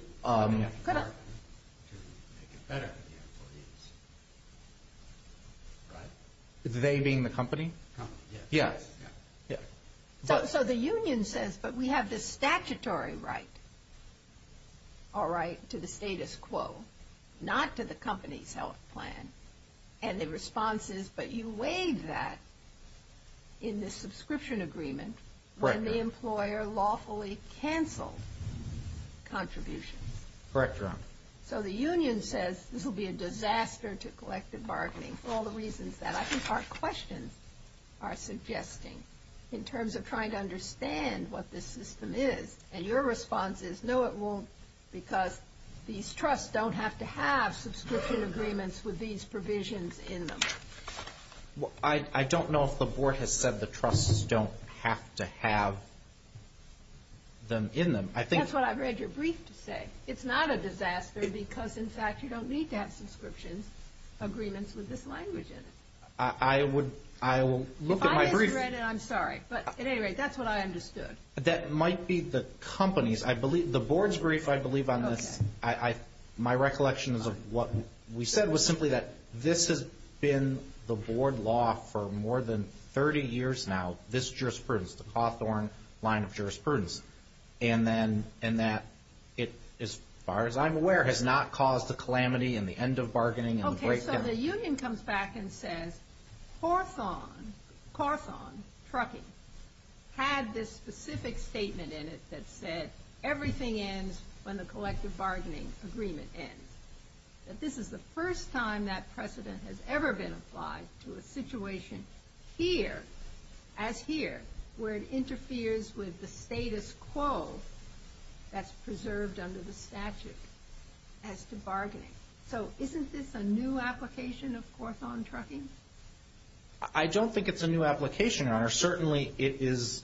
They being the company? Yeah. So, the union says, but we have the statutory right, all right, to the status quo, not to the company health plan. And the response is, but you weighed that in the subscription agreement. Correct. When the employer lawfully canceled contributions. Correct, Your Honor. So, the union says, this will be a disaster to collective bargaining, for all the reasons that I think our questions are suggesting, in terms of trying to understand what this system is. And your response is, no, it won't, because these trusts don't have to have subscription agreements with these provisions in them. I don't know if the board has said the trusts don't have to have them in them. That's what I read your brief to say. It's not a disaster, because, in fact, you don't need to have subscription agreements with this language in it. I will look at my brief. I read it, I'm sorry. But, at any rate, that's what I understood. That might be the company's, I believe, the board's brief, I believe, my recollection of what we said was simply that this has been the board law for more than 30 years now, this jurisprudence, the Cawthorn line of jurisprudence. And that, as far as I'm aware, has not caused a calamity in the end of bargaining and the breakdown. So the union comes back and says, Cawthorn Trucking had this specific statement in it that said, everything ends when the collective bargaining agreement ends. That this is the first time that precedent has ever been applied to a situation here, as here, where it interferes with the status quo that's preserved under the statute as to bargaining. So isn't this a new application of Cawthorn Trucking? I don't think it's a new application, certainly it is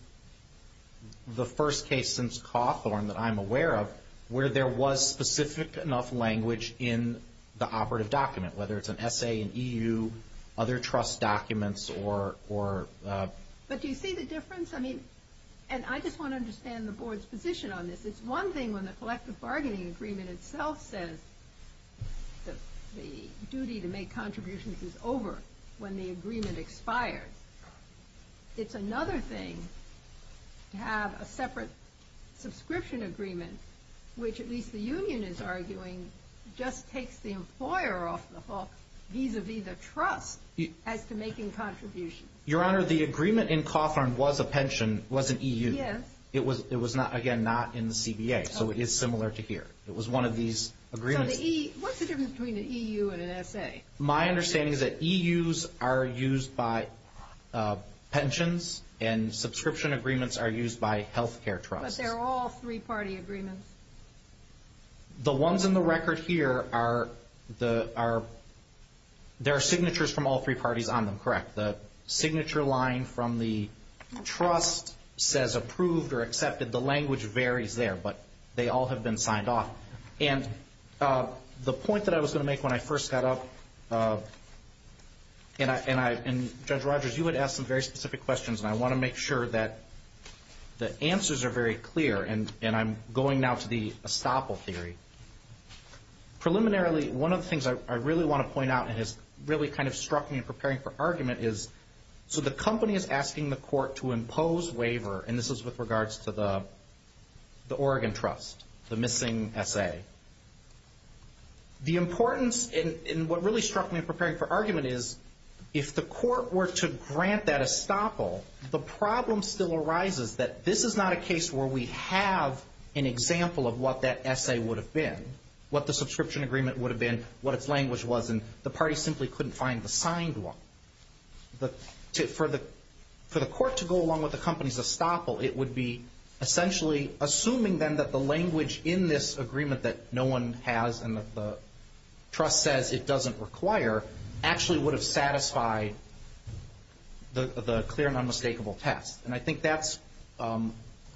the first case since Cawthorn that I'm aware of where there was specific enough language in the operative document, whether it's an essay in EU, other trust documents, or... But do you see the difference? And I just want to understand the board's position on this. It's one thing when the collective bargaining agreement itself says that the duty to make contributions is over when the agreement expires. It's another thing to have a separate subscription agreement, which at least the union is arguing, just takes the employer off the hook, vis-a-vis the trust, as to making contributions. Your Honor, the agreement in Cawthorn was a pension, was an EU. Yes. It was, again, not in the CBA, so it is similar to here. It was one of these agreements. What's the difference between an EU and an essay? My understanding is that EUs are used by pensions, and subscription agreements are used by healthcare trusts. But they're all three-party agreements. The ones in the record here are, there are signatures from all three parties on them, correct? The signature line from the trust says approved or accepted. The language varies there, but they all have been signed off. And the point that I was going to make when I first got up, and Judge Rogers, you had asked some very specific questions, and I want to make sure that the answers are very clear, and I'm going now to the estoppel theory. Preliminarily, one of the things I really want to point out, and has really kind of struck me in preparing for argument is, so the company is asking the court to impose waiver, and this is with regards to the Oregon Trust, the missing essay. The importance, and what really struck me in preparing for argument is, if the court were to grant that estoppel, the problem still arises that this is not a case where we have an example of what that essay would have been, what the subscription agreement would have been, what its language was, and the party simply couldn't find the signed one. For the court to go along with the company's estoppel, it would be essentially assuming then that the language in this agreement that no one has, and the trust says it doesn't require, actually would have satisfied the clear and unmistakable test. And I think that's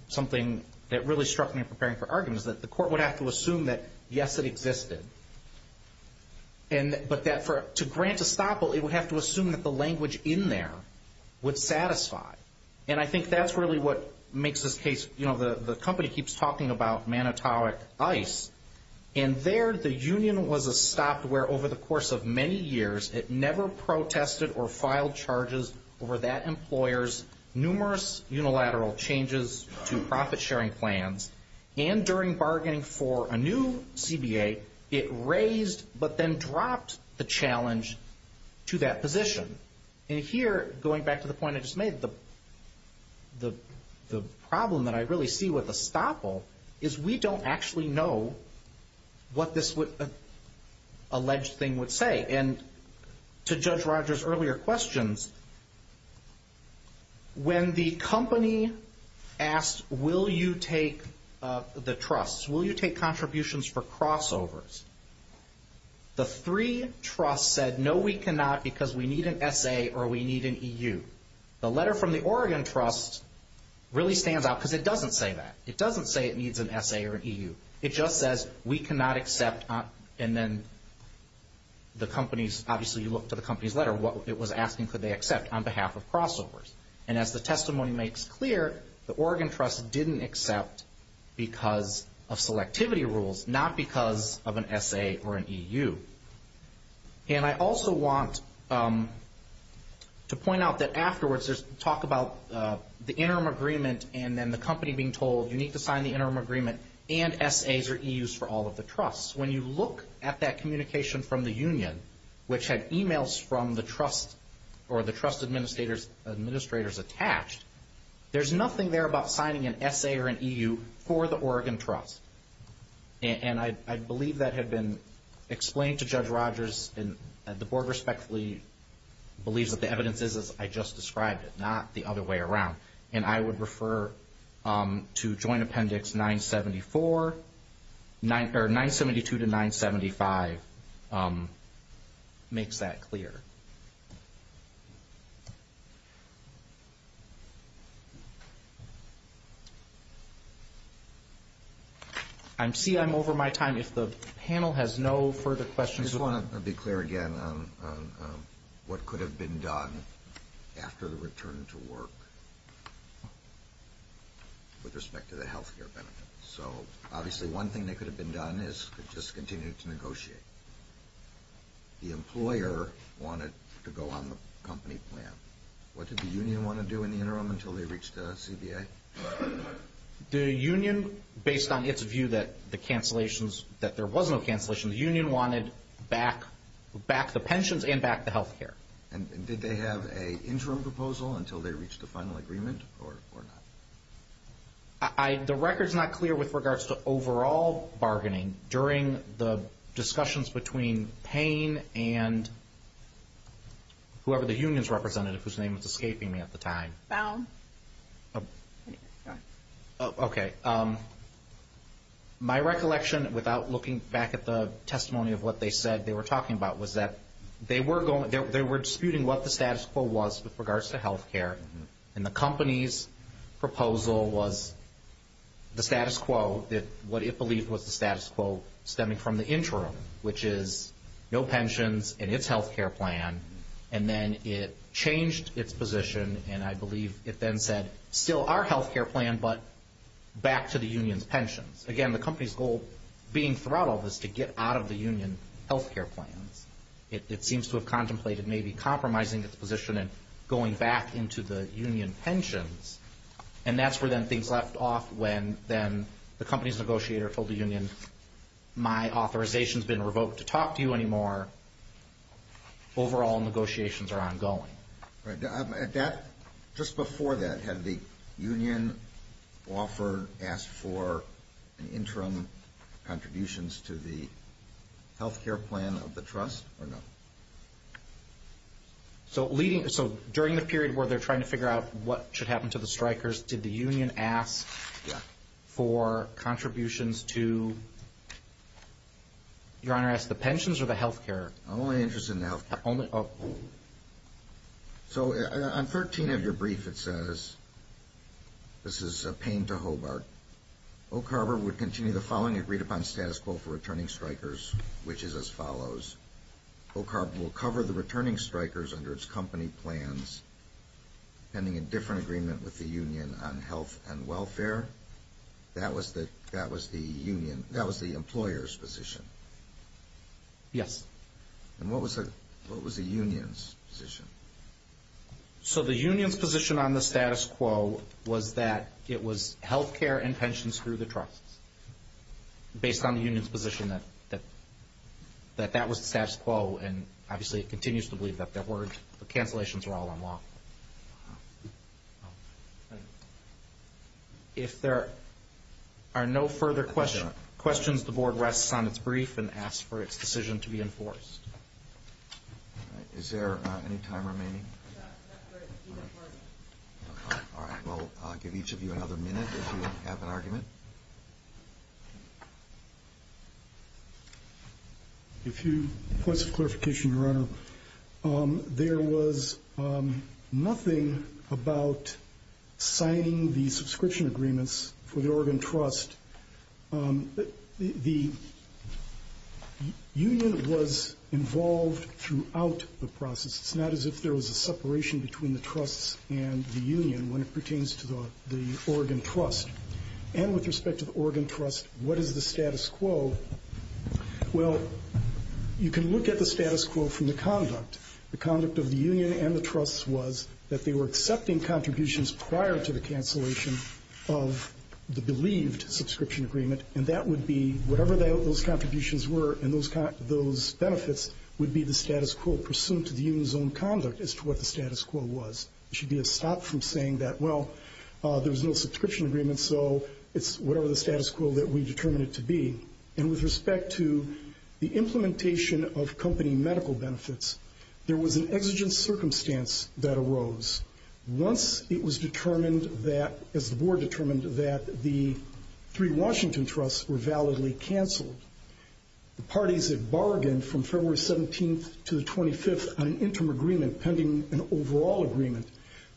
something that really struck me in preparing for argument, is that the court would have to assume that, yes, it existed. But to grant estoppel, it would have to assume that the language in there would satisfy. And I think that's really what makes this case, you know, the company keeps talking about Manitowic ICE, and there the union was a software over the course of many years. It never protested or filed charges over that employer's numerous unilateral changes to profit-sharing plans, and during bargaining for a new CBA, it raised but then dropped the challenge to that position. And here, going back to the point I just made, the problem that I really see with estoppel is we don't actually know what this alleged thing would say. And to Judge Rogers' earlier questions, when the company asks, will you take the trust, will you take contributions for crossovers, the three trusts said, no, we cannot, because we need an SA or we need an EU. The letter from the Oregon Trust really stands out, because it doesn't say that. It doesn't say it needs an SA or an EU. It just says, we cannot accept, and then the companies, obviously you look to the company's letter, what it was asking could they accept on behalf of crossovers. And as the testimony makes clear, the Oregon Trust didn't accept because of selectivity rules, not because of an SA or an EU. And I also want to point out that afterwards, there's talk about the interim agreement and then the company being told, you need to sign the interim agreement and SAs or EUs for all of the trusts. When you look at that communication from the union, which had emails from the trust or the trust administrators attached, there's nothing there about signing an SA or an EU for the Oregon Trust. And I believe that had been explained to Judge Rogers, and the board respectfully believes that the evidence is as I just described it, not the other way around. And I would refer to Joint Appendix 972 to 975 makes that clear. I see I'm over my time. If the panel has no further questions. I just want to be clear again on what could have been done after the return to work with respect to the health care benefits. So, obviously, one thing that could have been done is just continue to negotiate. The employer wanted to go on the company plan. What did the union want to do in the interim until they reached CBA? The union, based on its view that there was no cancellations, the union wanted back the pensions and back the health care. And did they have an interim proposal until they reached a final agreement or not? The record's not clear with regards to overall bargaining during the discussions between Payne and whoever the union's representative, whose name was escaping me at the time. Okay. My recollection, without looking back at the testimony of what they said they were talking about, was that they were disputing what the status quo was with regards to health care. And the company's proposal was the status quo, what it believed was the status quo stemming from the interim, which is no pensions and its health care plan. And then it changed its position, and I believe it then said, still our health care plan, but back to the union's pensions. Again, the company's goal being throughout all this to get out of the union's health care plan. It seems to have contemplated maybe compromising its position and going back into the union pensions. And that's where then things left off when then the company's negotiator told the union, my authorization's been revoked to talk to you anymore. Overall negotiations are ongoing. Just before that, had the union offer asked for interim contributions to the health care plan of the trust or no? So during the period where they're trying to figure out what should happen to the strikers, did the union ask for contributions to, Your Honor, ask the pensions or the health care? I'm only interested in the health care. So on 13 of your brief, it says, this is Payne to Hobart, Oak Harbor would continue the following agreed upon status quo for returning strikers, which is as follows. Oak Harbor will cover the returning strikers under its company plans, pending a different agreement with the union on health and welfare. That was the employer's position. Yes. And what was the union's position? So the union's position on the status quo was that it was health care and pensions through the trust. Based on the union's position that that was the status quo, and obviously it continues to believe that the cancellations are all unlawful. If there are no further questions, the board rests on its brief and asks for its decision to be enforced. Is there any time remaining? All right. We'll give each of you another minute if you have an argument. A few points of clarification, Your Honor. There was nothing about signing the subscription agreements for the Oregon Trust. The union was involved throughout the process. It's not as if there was a separation between the trust and the union when it pertains to the Oregon Trust. And with respect to the Oregon Trust, what is the status quo? Well, you can look at the status quo from the conduct. The conduct of the union and the trust was that they were accepting contributions prior to the cancellation of the believed subscription agreement, and that would be whatever those contributions were and those benefits would be the status quo pursuant to the union's own conduct as to what the status quo was. It should be a stop from saying that, well, there was no subscription agreement, so it's whatever the status quo that we determined it to be. And with respect to the implementation of company medical benefits, there was an exigent circumstance that arose. Once it was determined that, as the board determined that the three Washington Trusts were validly canceled, the parties had bargained from February 17th to the 25th on an interim agreement pending an overall agreement.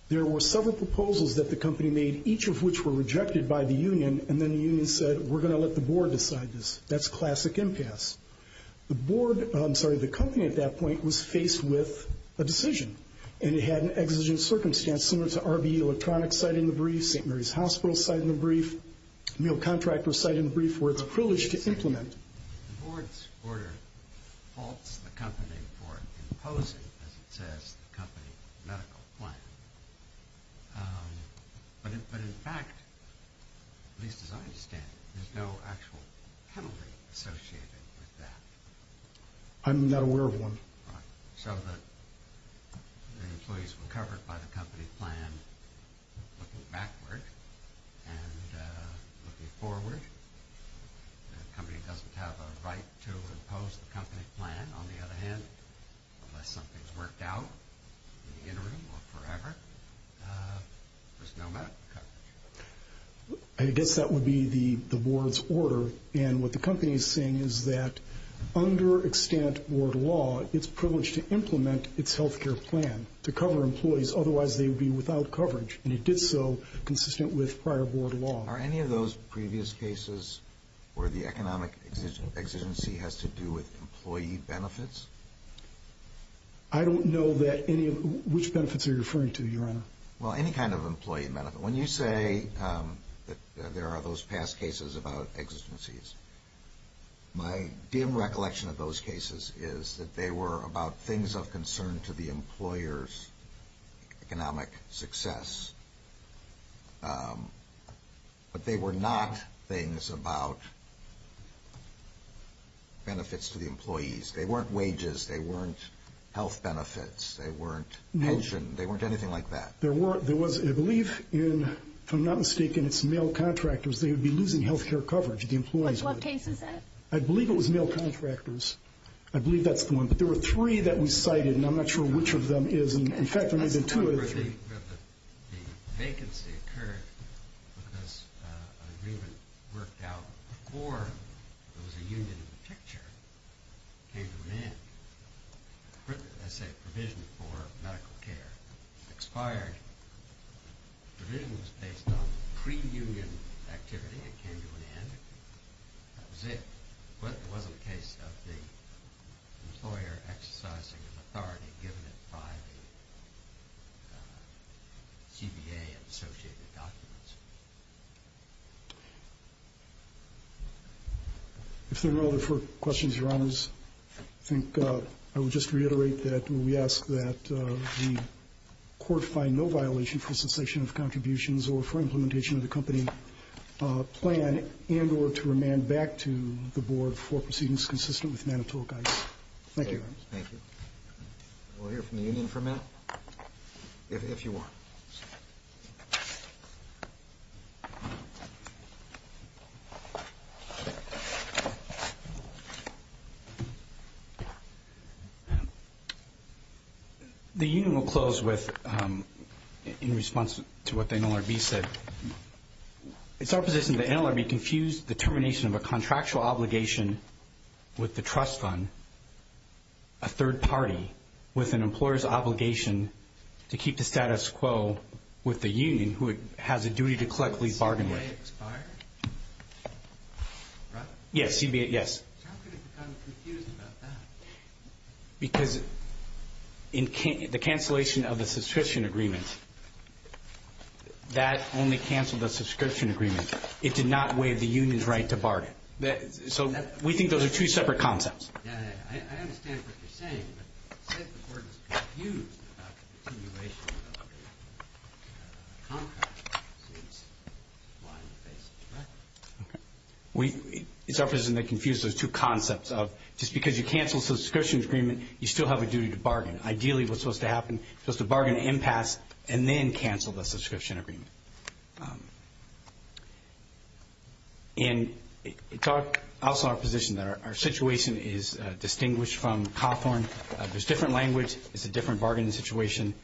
There were several proposals that the company made, each of which were rejected by the union, and then the union said, we're going to let the board decide this. That's classic impasse. The board, I'm sorry, the company at that point was faced with a decision, and it had an exigent circumstance similar to RBE Electronics citing the brief, St. Mary's Hospital citing the brief, you know, contractors citing the brief where it's a privilege to implement. The board's order faults the company for imposing, as it says, the company medical plan. But in fact, at least as I understand it, there's no actual penalty associated with that. I'm not aware of one. So the employees were covered by the company's plan. Looking backward and looking forward, the company doesn't have a right to impose the company's plan. On the other hand, unless something's worked out in the interim or forever, there's no matter. I guess that would be the board's order, and what the company is saying is that under extant board law, it's privileged to implement its healthcare plan to cover employees. Otherwise, they would be without coverage, and it did so consistent with prior board law. Are any of those previous cases where the economic exigency has to do with employee benefits? I don't know which benefits you're referring to, Your Honor. Well, any kind of employee benefit. When you say that there are those past cases about exigencies, my dim recollection of those cases is that they were about things of concern to the employer's economic success. But they were not things about benefits to the employees. They weren't wages. They weren't health benefits. They weren't pension. They weren't anything like that. I believe, if I'm not mistaken, it's male contractors. They would be losing healthcare coverage, the employees. What case is that? I believe it was male contractors. I believe that's the one. But there were three that we cited, and I'm not sure which of them is. In fact, there may have been two of them. The vacancy occurred because an agreement worked out before there was a union in the picture. It came to an end. I say provision for medical care. It expired. The provision was based on pre-union activity. It came to an end. That was it. What was the case of the employer exercising an authority given by GBA-associated documents? If there are no other questions, Your Honors, I would just reiterate that we ask that the court find no violation for cessation of contributions or for implementation of the company plan in order to remand back to the board for proceedings consistent with Manitoba guidance. Thank you. Thank you. We'll hear from the union for a minute, if you want. The union will close in response to what the NLRB said. It's our position that the NLRB confused determination of a contractual obligation with the trust fund, a third party with an employer's obligation to keep the status quo with the union who has a duty to collectively bargain with. Can I ask a question? Yes. I'm confused about that. Because the cancellation of the subscription agreement, that only canceled the subscription agreement. We think those are two separate concepts. I understand what you're saying, but I think the court is confused about the continuation of the contract. It's our position to confuse those two concepts. Just because you canceled the subscription agreement, you still have a duty to bargain. Ideally, what's supposed to happen is a bargain impasse and then cancel the subscription agreement. It's also our position that our situation is distinguished from Cawthorn. There's different language. It's a different bargaining situation.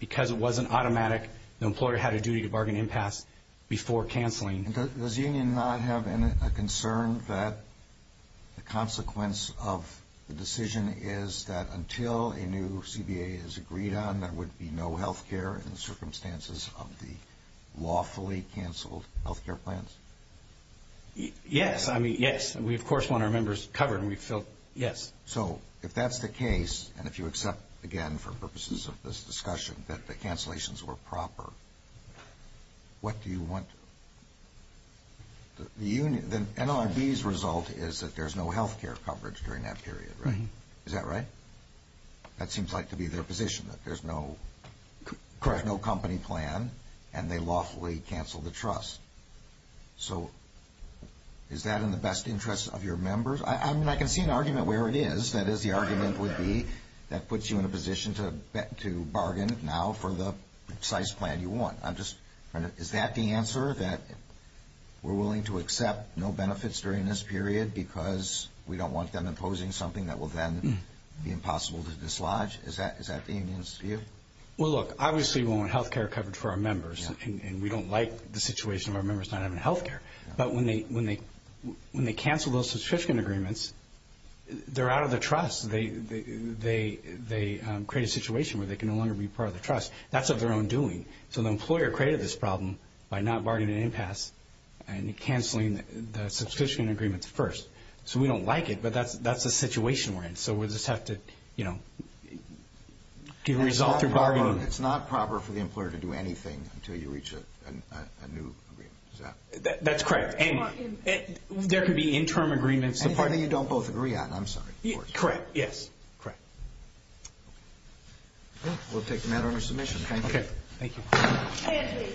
Because it wasn't automatic, the employer had a duty to bargain impasse before canceling. Does the union not have a concern that the consequence of the decision is that until a new CBA is agreed on, there would be no health care in the circumstances of the lawfully canceled health care plans? Yes. I mean, yes. We, of course, want our members covered. We feel, yes. So, if that's the case, and if you accept, again, for purposes of this discussion, that the cancellations were proper, what do you want the union to do? Then NLRB's result is that there's no health care coverage during that period, right? Is that right? That seems like to be their position, that there's no company plan and they lawfully cancel the trust. So, is that in the best interest of your members? I mean, I can see an argument where it is. That is, the argument would be that puts you in a position to bargain now for the precise plan you want. Is that the answer, that we're willing to accept no benefits during this period because we don't want them imposing something that will then be impossible to dislodge? Is that the union's view? Well, look, obviously, we want health care covered for our members, and we don't like the situation where members don't have health care. But when they cancel those subscription agreements, they're out of the trust. They create a situation where they can no longer be part of the trust. That's of their own doing. So, the employer created this problem by not bargaining an impasse and canceling the subscription agreements first. So, we don't like it, but that's the situation we're in. So, we'll just have to, you know, get a result through bargaining. It's not proper for the employer to do anything until you reach a new agreement. That's correct. There could be interim agreements. Anything you don't both agree on. I'm sorry. Correct, yes. Correct. We'll take the matter under submission. Okay. Thank you.